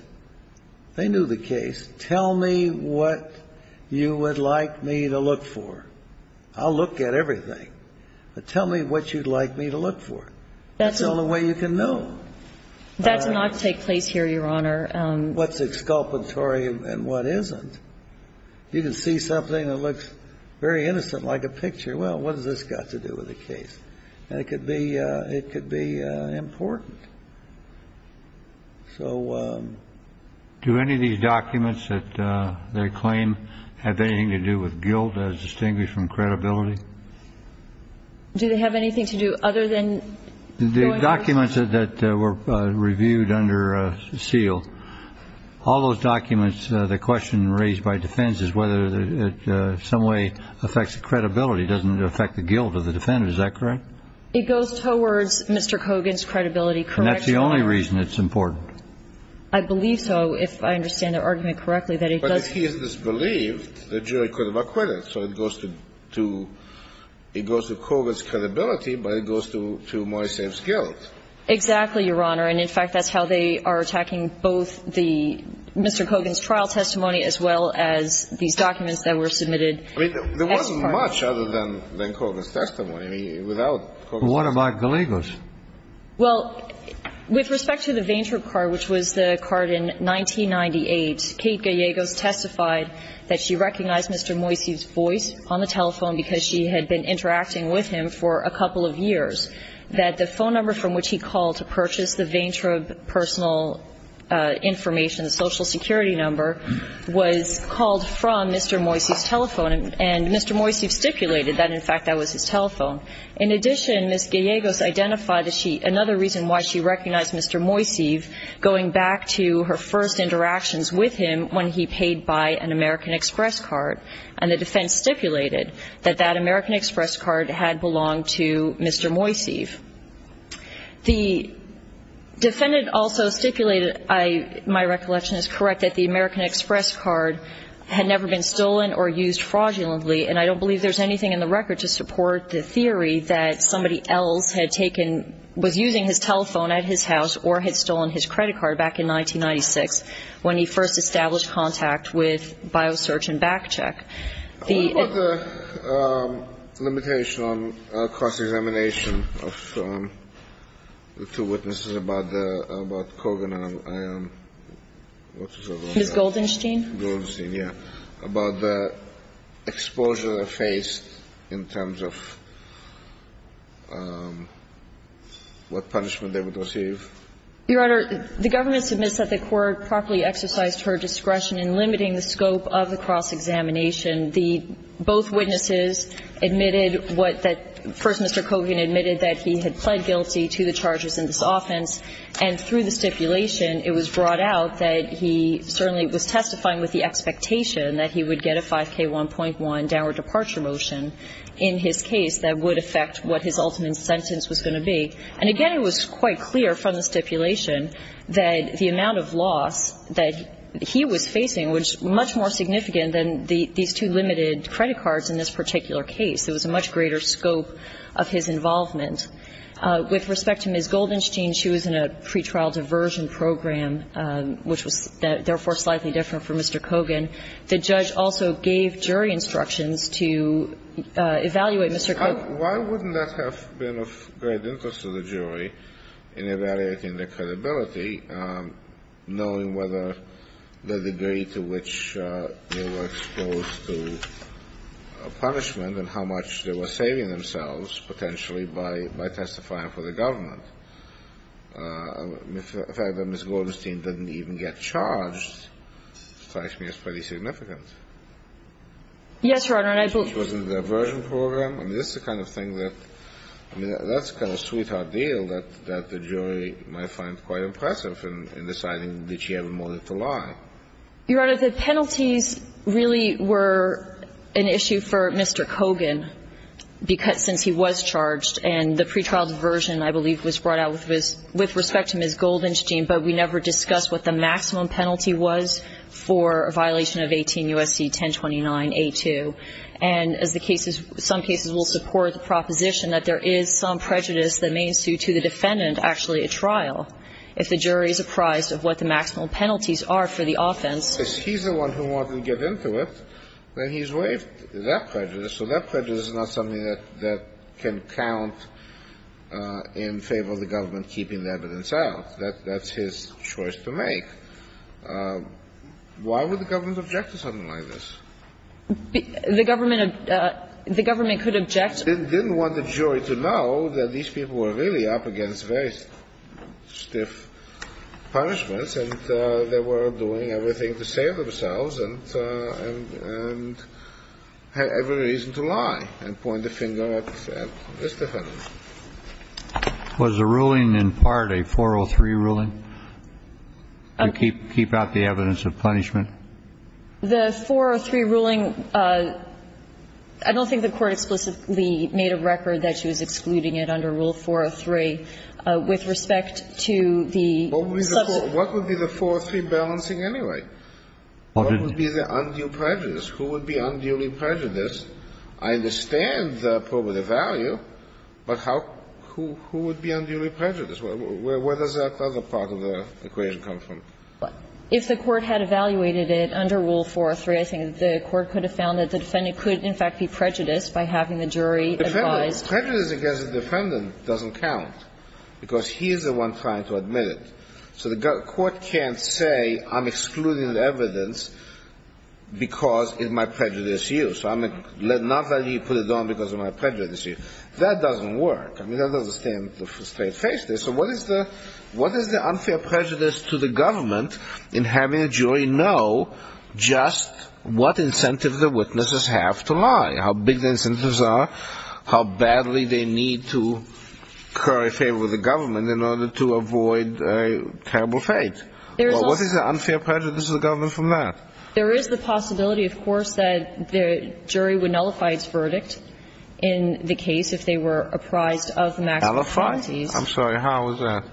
They knew the case. Tell me what you would like me to look for. I'll look at everything. But tell me what you'd like me to look for. That's the only way you can know. That does not take place here, Your Honor. What's exculpatory and what isn't. You can see something that looks very innocent, like a picture. Well, what has this got to do with the case? And it could be important. So do any of these documents that they claim have anything to do with guilt as distinguished from credibility? Do they have anything to do other than going over? The documents that were reviewed under seal, all those documents, the question raised by defense is whether it in some way affects the credibility. It doesn't affect the guilt of the defendant. Is that correct? It goes towards Mr. Kogan's credibility. And that's the only reason it's important. I believe so, if I understand the argument correctly, that it does. But if he is disbelieved, the jury could have acquitted. So it goes to Kogan's credibility, but it goes to Moysev's guilt. Exactly, Your Honor. And, in fact, that's how they are attacking both the Mr. Kogan's trial testimony as well as these documents that were submitted. I mean, there wasn't much other than Kogan's testimony. I mean, without Kogan's testimony. What about Gallegos? Well, with respect to the Vayntrub card, which was the card in 1998, Kate Gallegos testified that she recognized Mr. Moysev's voice on the telephone because she had been interacting with him for a couple of years, that the phone number from which he called to purchase the Vayntrub personal information, the social security number, was called from Mr. Moysev's telephone. And Mr. Moysev stipulated that, in fact, that was his telephone. In addition, Ms. Gallegos identified another reason why she recognized Mr. Moysev, going back to her first interactions with him when he paid by an American Express card. And the defense stipulated that that American Express card had belonged to Mr. Moysev. The defendant also stipulated, my recollection is correct, that the American Express card had never been stolen or used fraudulently. And I don't believe there's anything in the record to support the theory that somebody else had taken or was using his telephone at his house or had stolen his credit card back in 1996 when he first established contact with BioSearch and BackCheck. The ---- What about the limitation on cross-examination of the two witnesses about the Kogan and Ion? Ms. Goldenstein? Goldenstein, yes. About the exposure they faced in terms of what punishment they would receive. Your Honor, the government submits that the court properly exercised her discretion in limiting the scope of the cross-examination. The ---- both witnesses admitted what that ---- First, Mr. Kogan admitted that he had pled guilty to the charges in this offense. And through the stipulation, it was brought out that he certainly was testifying with the expectation that he would get a 5K1.1 downward departure motion in his case that would affect what his ultimate sentence was going to be. And again, it was quite clear from the stipulation that the amount of loss that he was facing was much more significant than these two limited credit cards in this particular case. There was a much greater scope of his involvement. With respect to Ms. Goldenstein, she was in a pretrial diversion program, which was, therefore, slightly different from Mr. Kogan. The judge also gave jury instructions to evaluate Mr. Kogan. Why wouldn't that have been of great interest to the jury in evaluating the credibility, knowing whether the degree to which they were exposed to punishment and how much they were saving themselves, potentially, by testifying for the government? The fact that Ms. Goldenstein didn't even get charged strikes me as pretty significant. Yes, Your Honor, and I believe ---- She was in a diversion program. I mean, this is the kind of thing that ---- I mean, that's the kind of sweetheart deal that the jury might find quite impressive in deciding that she had more than to lie. Your Honor, the penalties really were an issue for Mr. Kogan since he was charged. And the pretrial diversion, I believe, was brought out with respect to Ms. Goldenstein, but we never discussed what the maximum penalty was for a violation of 18 U.S.C. 1029a2. And as the case is ---- some cases will support the proposition that there is some prejudice that may ensue to the defendant actually at trial if the jury is apprised of what the maximum penalties are for the offense. If he's the one who wanted to get into it, then he's waived that prejudice. So that prejudice is not something that can count in favor of the government keeping the evidence out. That's his choice to make. Why would the government object to something like this? The government ---- the government could object. It didn't want the jury to know that these people were really up against very stiff punishments, and they were doing everything to save themselves and had every reason to lie and point the finger at this defendant. Was the ruling in part a 403 ruling to keep out the evidence of punishment? The 403 ruling, I don't think the Court explicitly made a record that she was excluding it under Rule 403 with respect to the ---- What would be the 403 balancing anyway? What would be the undue prejudice? Who would be unduly prejudiced? I understand the probative value, but how ---- who would be unduly prejudiced? Where does that other part of the equation come from? If the Court had evaluated it under Rule 403, I think the Court could have found that the defendant could, in fact, be prejudiced by having the jury advise ---- Prejudice against the defendant doesn't count, because he is the one trying to admit it. So the Court can't say I'm excluding the evidence because it might prejudice you. So I'm not going to put it on because it might prejudice you. That doesn't work. I mean, that doesn't stand straight-faced. So what is the unfair prejudice to the government in having a jury know just what incentives the witnesses have to lie, how big the incentives are, how badly they need to curry favor with the government in order to avoid a terrible fate? What is the unfair prejudice of the government from that? There is the possibility, of course, that the jury would nullify its verdict in the case if they were apprised of maximum penalties. I'm sorry. How is that?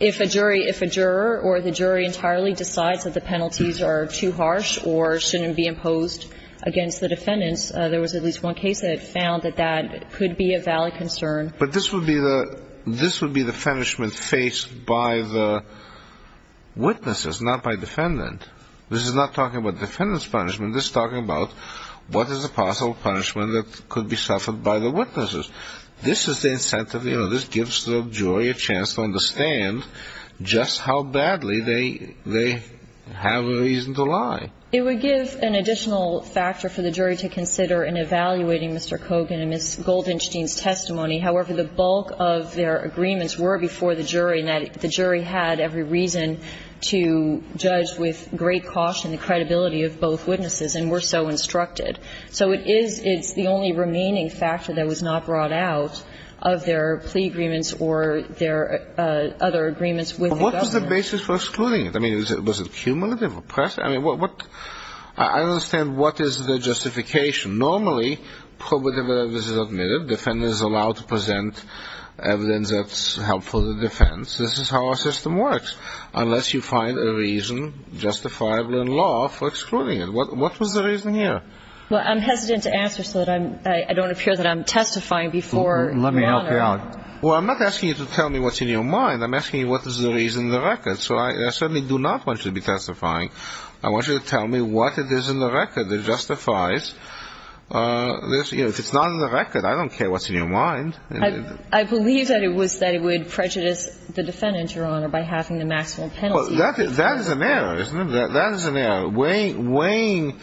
If a jury, if a juror or the jury entirely decides that the penalties are too harsh or shouldn't be imposed against the defendants, there was at least one case that found that that could be a valid concern. But this would be the ---- this would be the punishment faced by the witnesses, not by defendant. This is not talking about defendant's punishment. This is talking about what is a possible punishment that could be suffered by the witnesses. This is the incentive. You know, this gives the jury a chance to understand just how badly they have a reason to lie. It would give an additional factor for the jury to consider in evaluating Mr. Kogan and Ms. Goldenstein's testimony. However, the bulk of their agreements were before the jury, and the jury had every reason to judge with great caution the credibility of both witnesses, and were so instructed. So it is the only remaining factor that was not brought out of their plea agreements or their other agreements with the government. But what was the basis for excluding it? I mean, was it cumulative oppression? I mean, what ---- I understand what is the justification. Normally, probative evidence is admitted. Defendant is allowed to present evidence that's helpful to the defense. This is how our system works. Unless you find a reason justifiably in law for excluding it. What was the reason here? Well, I'm hesitant to answer so that I don't appear that I'm testifying before Your Honor. Let me help you out. Well, I'm not asking you to tell me what's in your mind. I'm asking you what is the reason in the record. So I certainly do not want you to be testifying. I want you to tell me what it is in the record that justifies this. You know, if it's not in the record, I don't care what's in your mind. I believe that it was that it would prejudice the defendant, Your Honor, by having the maximum penalty. Well, that is an error, isn't it? That is an error. Weighing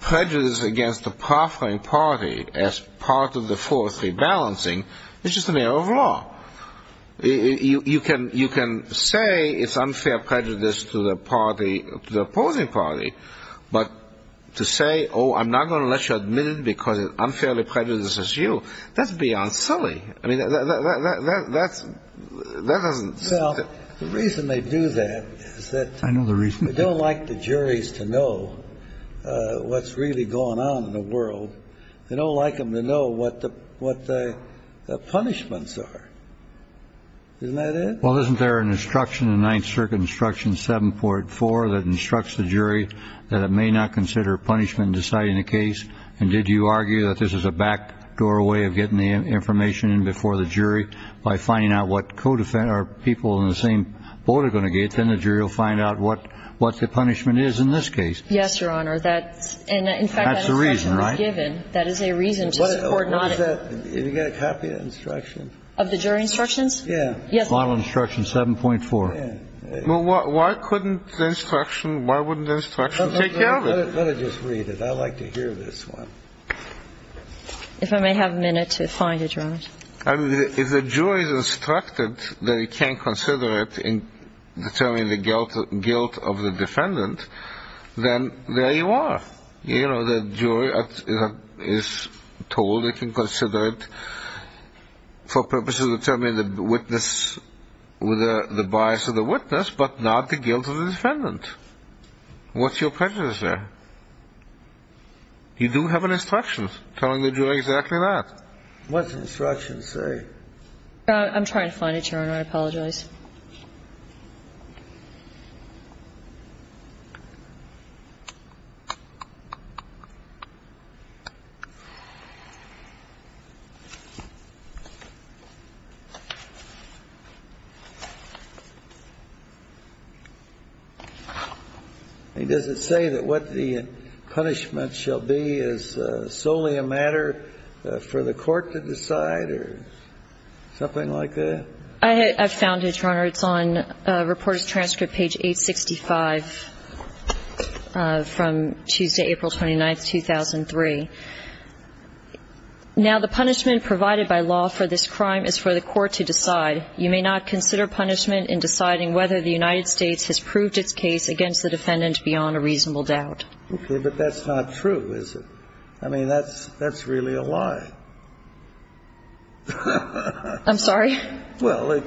prejudice against the proffering party as part of the 403 balancing is just an error of law. You can say it's unfair prejudice to the party, to the opposing party. But to say, oh, I'm not going to let you admit it because it's unfairly prejudiced against you, that's beyond silly. I mean, that doesn't seem to me. The reason they do that is that they don't like the juries to know what's really going on in the world. They don't like them to know what the punishments are. Isn't that it? Well, isn't there an instruction in Ninth Circuit Instruction 7.4 that instructs the jury that it may not consider punishment in deciding a case? And did you argue that this is a backdoor way of getting the information in before the jury by finding out what co-defendant or people in the same boat are going to get? Then the jury will find out what the punishment is in this case. Yes, Your Honor. That's the reason, right? In fact, that instruction was given. That is a reason to support not. What is that? Have you got a copy of that instruction? Of the jury instructions? Yeah. Yes. Model instruction 7.4. Well, why couldn't the instruction, why wouldn't the instruction take care of it? Let her just read it. I like to hear this one. If I may have a minute to find it, Your Honor. If the jury is instructed that it can't consider it in determining the guilt of the defendant, then there you are. You know, the jury is told it can consider it for purposes of determining the witness, the bias of the witness, but not the guilt of the defendant. What's your prejudice there? You do have an instruction telling the jury exactly that. What's the instruction say? I'm trying to find it, Your Honor. I apologize. It doesn't say that what the punishment shall be is solely a matter for the court to decide or something like that? I found it, Your Honor. It's on Reporters' Transcript, page 865, from Tuesday, April 29th, 2003. Now, the punishment provided by law for this crime is for the court to decide. You may not consider punishment in deciding whether the United States has proved its case against the defendant beyond a reasonable doubt. Okay, but that's not true, is it? I mean, that's really a lie. I'm sorry? Well,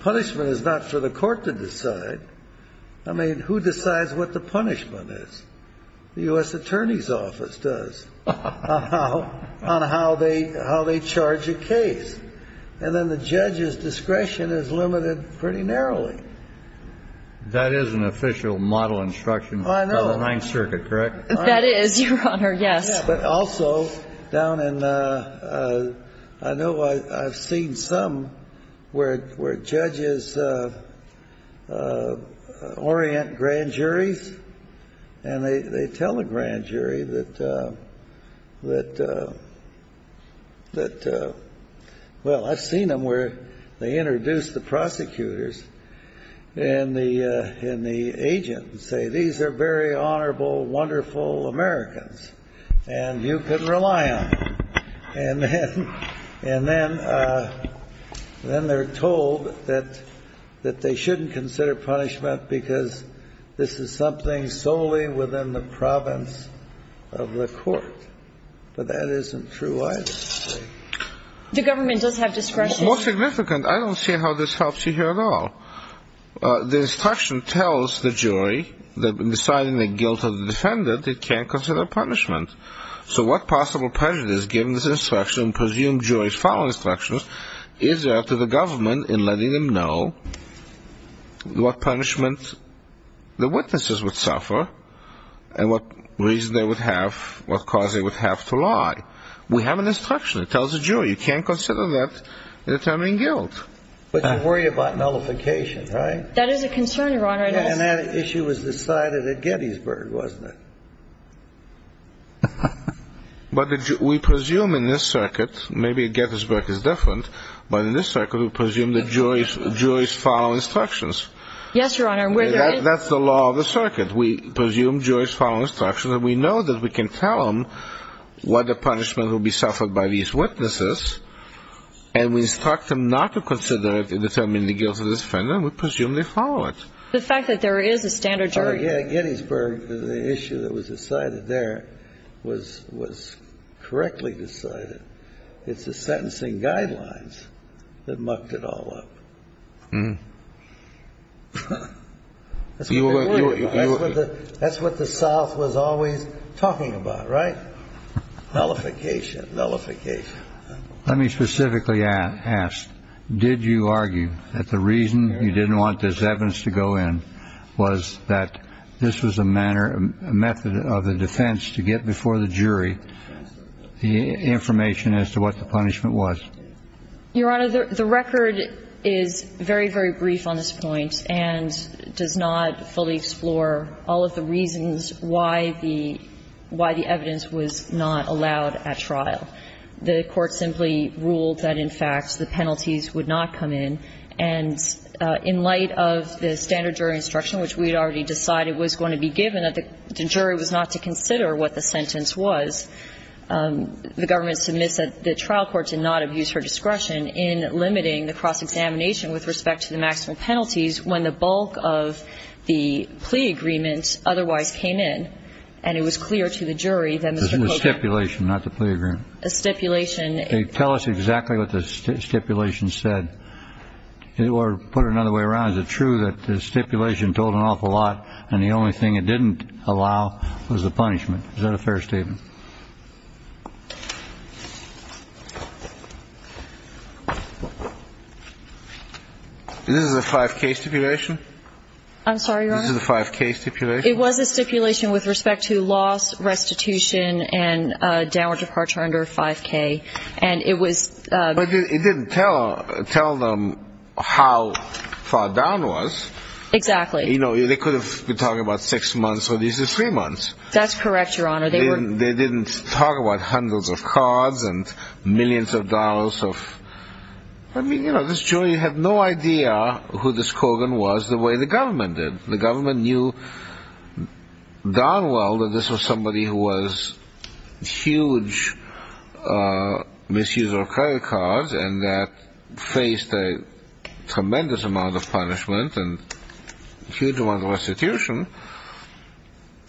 punishment is not for the court to decide. I mean, who decides what the punishment is? The U.S. Attorney's Office does on how they charge a case. And then the judge's discretion is limited pretty narrowly. That is an official model instruction from the Ninth Circuit, correct? That is, Your Honor, yes. Yeah, but also down in the ‑‑ I know I've seen some where judges orient grand juries, and they tell the grand jury that, well, I've seen them where they introduce the prosecutors and the agent and say, these are very honorable, wonderful Americans, and you can rely on them. And then they're told that they shouldn't consider punishment because this is something solely within the province of the court. But that isn't true, either, is it? The government does have discretion. More significant, I don't see how this helps you here at all. The instruction tells the jury that in deciding the guilt of the defendant, they can't consider punishment. So what possible prejudice, given this instruction, presumed jury's following instructions, is there to the government in letting them know what punishment the witnesses would suffer and what reason they would have, what cause they would have to lie? We have an instruction. It tells the jury you can't consider that determining guilt. But you worry about nullification, right? That is a concern, Your Honor. And that issue was decided at Gettysburg, wasn't it? But we presume in this circuit, maybe Gettysburg is different, but in this circuit, we presume the jury's following instructions. Yes, Your Honor. That's the law of the circuit. We presume jury's following instructions and we know that we can tell them what the punishment will be suffered by these witnesses and we instruct them not to consider determining the guilt of the defendant and we presume they follow it. The fact that there is a standard jury. At Gettysburg, the issue that was decided there was correctly decided. It's the sentencing guidelines that mucked it all up. That's what the South was always talking about, right? Nullification, nullification. Let me specifically ask, did you argue that the reason you didn't want this evidence to go in was that this was a manner, a method of the defense to get before the jury the information as to what the punishment was? Your Honor, the record is very, very brief on this point and does not fully explore all of the reasons why the evidence was not allowed at trial. The court simply ruled that, in fact, the penalties would not come in. And in light of the standard jury instruction, which we had already decided was going to be given, that the jury was not to consider what the sentence was, the government submits that the trial court did not abuse her discretion in limiting the cross-examination with respect to the maximum penalties when the bulk of the plea agreement otherwise came in. And it was clear to the jury that Mr. Kochan. It was stipulation, not the plea agreement. Stipulation. Tell us exactly what the stipulation said, or put it another way around. Is it true that the stipulation told an awful lot and the only thing it didn't allow was the punishment? Is that a fair statement? This is a 5K stipulation. I'm sorry, Your Honor. This is a 5K stipulation. It was a stipulation with respect to loss, restitution, and downward departure under 5K. And it was. But it didn't tell them how far down it was. Exactly. You know, they could have been talking about six months, so this is three months. That's correct, Your Honor. They didn't talk about hundreds of cards and millions of dollars of, I mean, you know, this jury had no idea who this Kogan was the way the government did. The government knew darn well that this was somebody who was a huge misuser of credit cards and that faced a tremendous amount of punishment and a huge amount of restitution.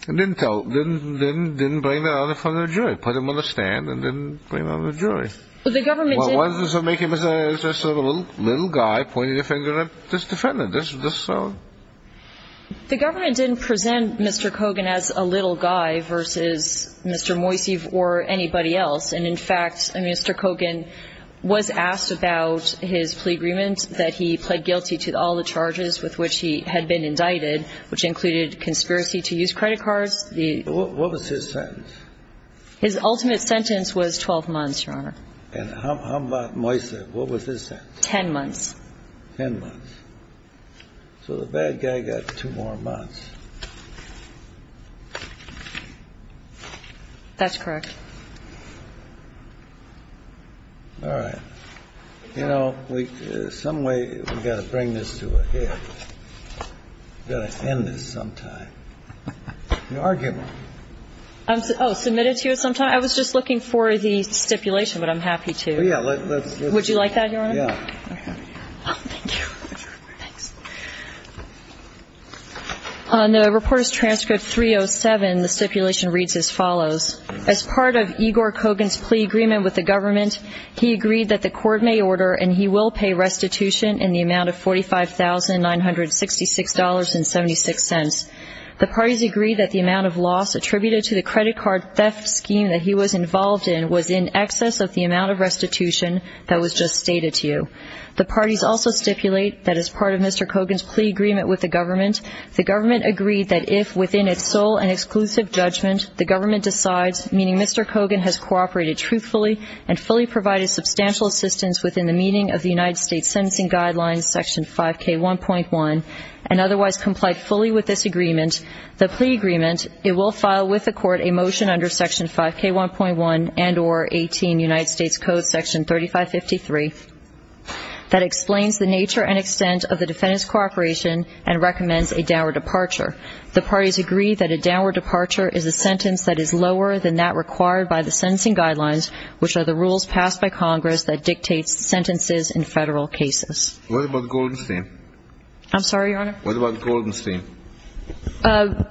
It didn't bring that out in front of the jury. It put him on the stand and didn't bring it out in front of the jury. Well, the government didn't. Well, why does this make him a little guy pointing a finger at this defendant? The government didn't present Mr. Kogan as a little guy versus Mr. Moisey or anybody else. And, in fact, Mr. Kogan was asked about his plea agreement that he pled guilty to all the charges with which he had been indicted, which included conspiracy to use credit cards. What was his sentence? His ultimate sentence was 12 months, Your Honor. And how about Moisey? What was his sentence? Ten months. Ten months. So the bad guy got two more months. That's correct. All right. You know, some way we've got to bring this to a head. We've got to end this sometime. You're arguing. Oh, submitted to you sometime? I was just looking for the stipulation, but I'm happy to. Well, yeah. Would you like that, Your Honor? Yeah. Oh, thank you. Thanks. On the reporter's transcript 307, the stipulation reads as follows. As part of Igor Kogan's plea agreement with the government, he agreed that the court may order and he will pay restitution in the amount of $45,966.76. The parties agreed that the amount of loss attributed to the credit card theft scheme that he was involved in was in excess of the amount of restitution that was just stated to you. The parties also stipulate that as part of Mr. Kogan's plea agreement with the government, the government agreed that if within its sole and exclusive judgment the government decides, meaning Mr. Kogan has cooperated truthfully and fully provided substantial assistance within the meaning of the United States Sentencing Guidelines, Section 5K1.1, and otherwise complied fully with this agreement, the plea agreement, it will file with the court a motion under Section 5K1.1 and or 18 United States Code, Section 3553, that explains the nature and extent of the defendant's cooperation and recommends a downward departure. The parties agree that a downward departure is a sentence that is lower than that required by the sentencing guidelines, which are the rules passed by Congress that dictates sentences in federal cases. What about Goldenstein? I'm sorry, Your Honor? What about Goldenstein?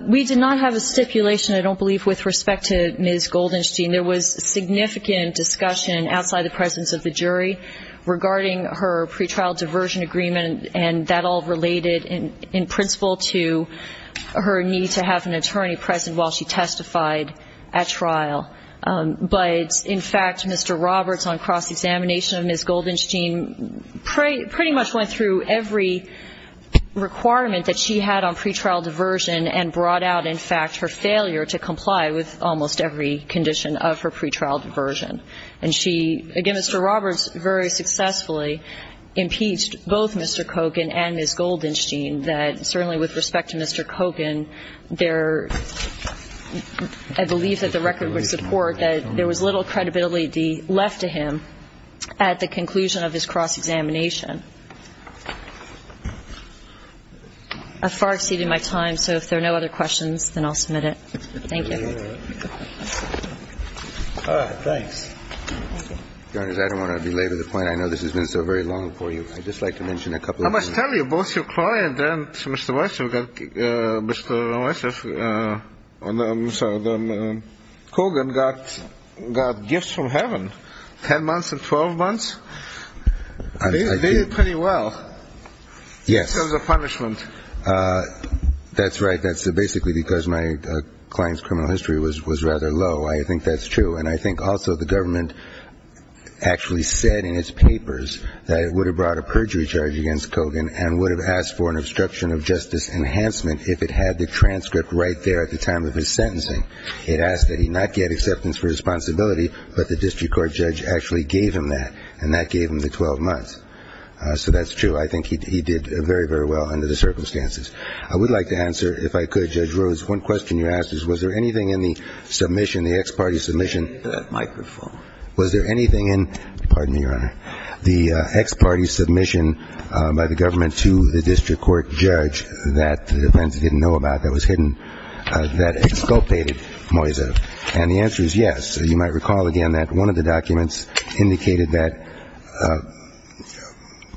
We did not have a stipulation, I don't believe, with respect to Ms. Goldenstein. There was significant discussion outside the presence of the jury regarding her pretrial diversion agreement, and that all related in principle to her need to have an attorney present while she testified at trial. But, in fact, Mr. Roberts, on cross-examination of Ms. Goldenstein, pretty much went through every requirement that she had on pretrial diversion and brought out, in fact, her failure to comply with almost every condition of her pretrial diversion. And she, again, Mr. Roberts very successfully impeached both Mr. Kogan and Ms. Goldenstein that certainly with respect to Mr. Kogan, there, I believe that the record would support that there was little credibility left to him at the conclusion of his cross-examination. I've far exceeded my time, so if there are no other questions, then I'll submit it. Thank you. All right. Thanks. Your Honor, I don't want to belabor the point. I know this has been so very long for you. I'd just like to mention a couple of things. I must tell you, both your client and Mr. Weisshoff, Mr. Weisshoff, Kogan got gifts from heaven, 10 months and 12 months. They did pretty well. Yes. In terms of punishment. That's right. That's basically because my client's criminal history was rather low. I think that's true. And I think also the government actually said in its papers that it would have brought a perjury charge against Kogan and would have asked for an obstruction of justice enhancement if it had the transcript right there at the time of his sentencing. It asked that he not get acceptance for responsibility, but the district court judge actually gave him that. And that gave him the 12 months. So that's true. I think he did very, very well under the circumstances. I would like to answer, if I could, Judge Rose, one question you asked is, was there anything in the submission, the ex parte submission. Take that microphone. Was there anything in, pardon me, Your Honor, the ex parte submission by the government to the district court judge that the defense didn't know about that was hidden that exculpated Moiseff? And the answer is yes. You might recall, again, that one of the documents indicated that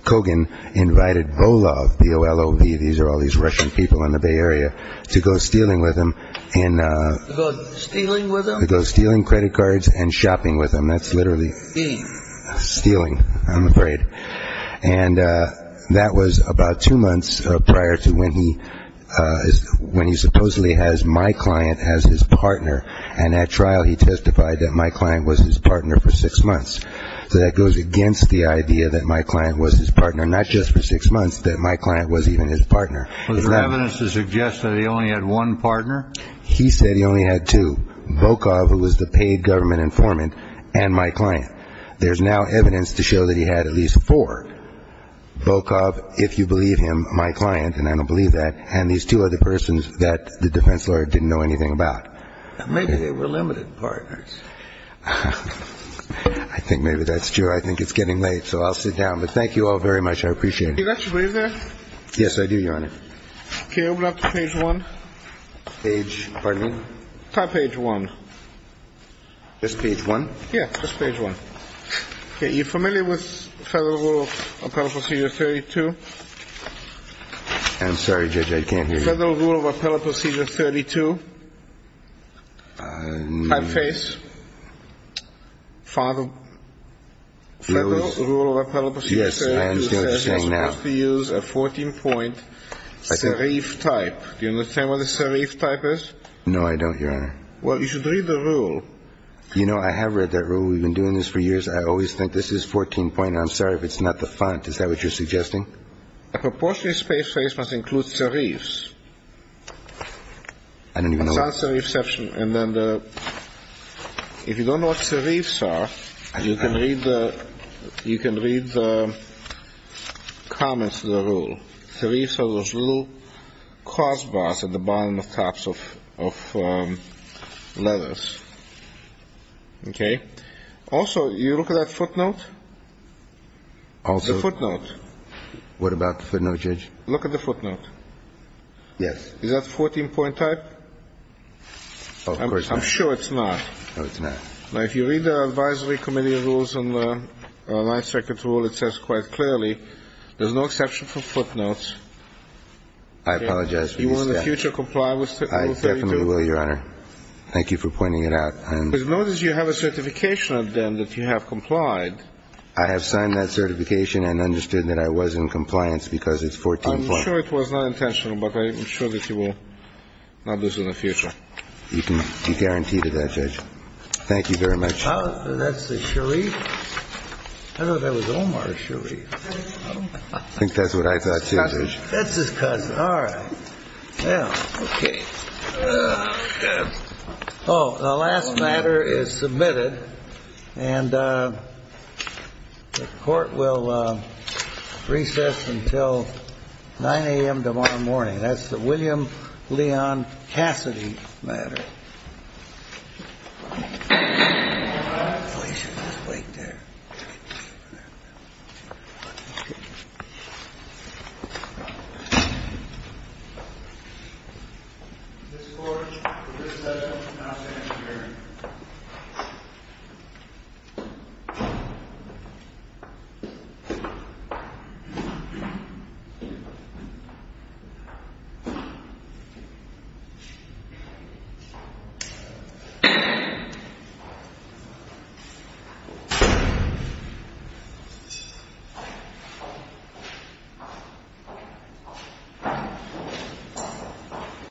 Kogan invited Volov, V-O-L-O-V, these are all these Russian people in the Bay Area, to go stealing with him. To go stealing with him? To go stealing credit cards and shopping with him. That's literally stealing, I'm afraid. And that was about two months prior to when he supposedly has my client as his partner. And at trial he testified that my client was his partner for six months. So that goes against the idea that my client was his partner, not just for six months, that my client was even his partner. Was there evidence to suggest that he only had one partner? He said he only had two. Bokov, who was the paid government informant, and my client. There's now evidence to show that he had at least four. Bokov, if you believe him, my client, and I don't believe that, and these two other persons that the defense lawyer didn't know anything about. Maybe they were limited partners. I think maybe that's true. I think it's getting late, so I'll sit down. But thank you all very much. I appreciate it. You got your brief there? Yes, I do, Your Honor. Okay, open up to page 1. Page, pardon me? Top page 1. Just page 1? Yeah, just page 1. Okay, you familiar with Federal Rule of Appellate Procedure 32? I'm sorry, Judge, I can't hear you. Federal Rule of Appellate Procedure 32. Typeface. Federal Rule of Appellate Procedure 32 says you're supposed to use a 14-point serif type. Do you understand what a serif type is? No, I don't, Your Honor. Well, you should read the rule. You know, I have read that rule. We've been doing this for years. I always think this is 14-point. I'm sorry if it's not the font. Is that what you're suggesting? A proportionate space phrase must include serifs. I don't even know what... And then the... If you don't know what serifs are, you can read the comments to the rule. Serifs are those little crossbars at the bottom of tops of letters. Okay? Also, you look at that footnote? Also... The footnote. What about the footnote, Judge? Look at the footnote. Yes. Is that 14-point type? Oh, of course not. I'm sure it's not. No, it's not. Now, if you read the Advisory Committee rules on the Ninth Circuit rule, it says quite clearly, there's no exception for footnotes. I apologize for this. Do you want to in the future comply with Rule 32? I definitely will, Your Honor. Thank you for pointing it out. Because notice you have a certification of them that you have complied. I have signed that certification and understood that I was in compliance because it's 14-point. I'm sure it was not intentional, but I'm sure that you will not do so in the future. You can be guaranteed of that, Judge. Thank you very much. That's a serif? I thought that was Omar's serif. I think that's what I thought, too, Judge. That's his cousin. All right. Well, okay. Oh, the last matter is submitted. And the Court will recess until 9 a.m. tomorrow morning. That's the William Leon Cassidy matter. Your Honor. Oh, he should just wait there. This Court will recess until 9 a.m. tomorrow morning. Thank you.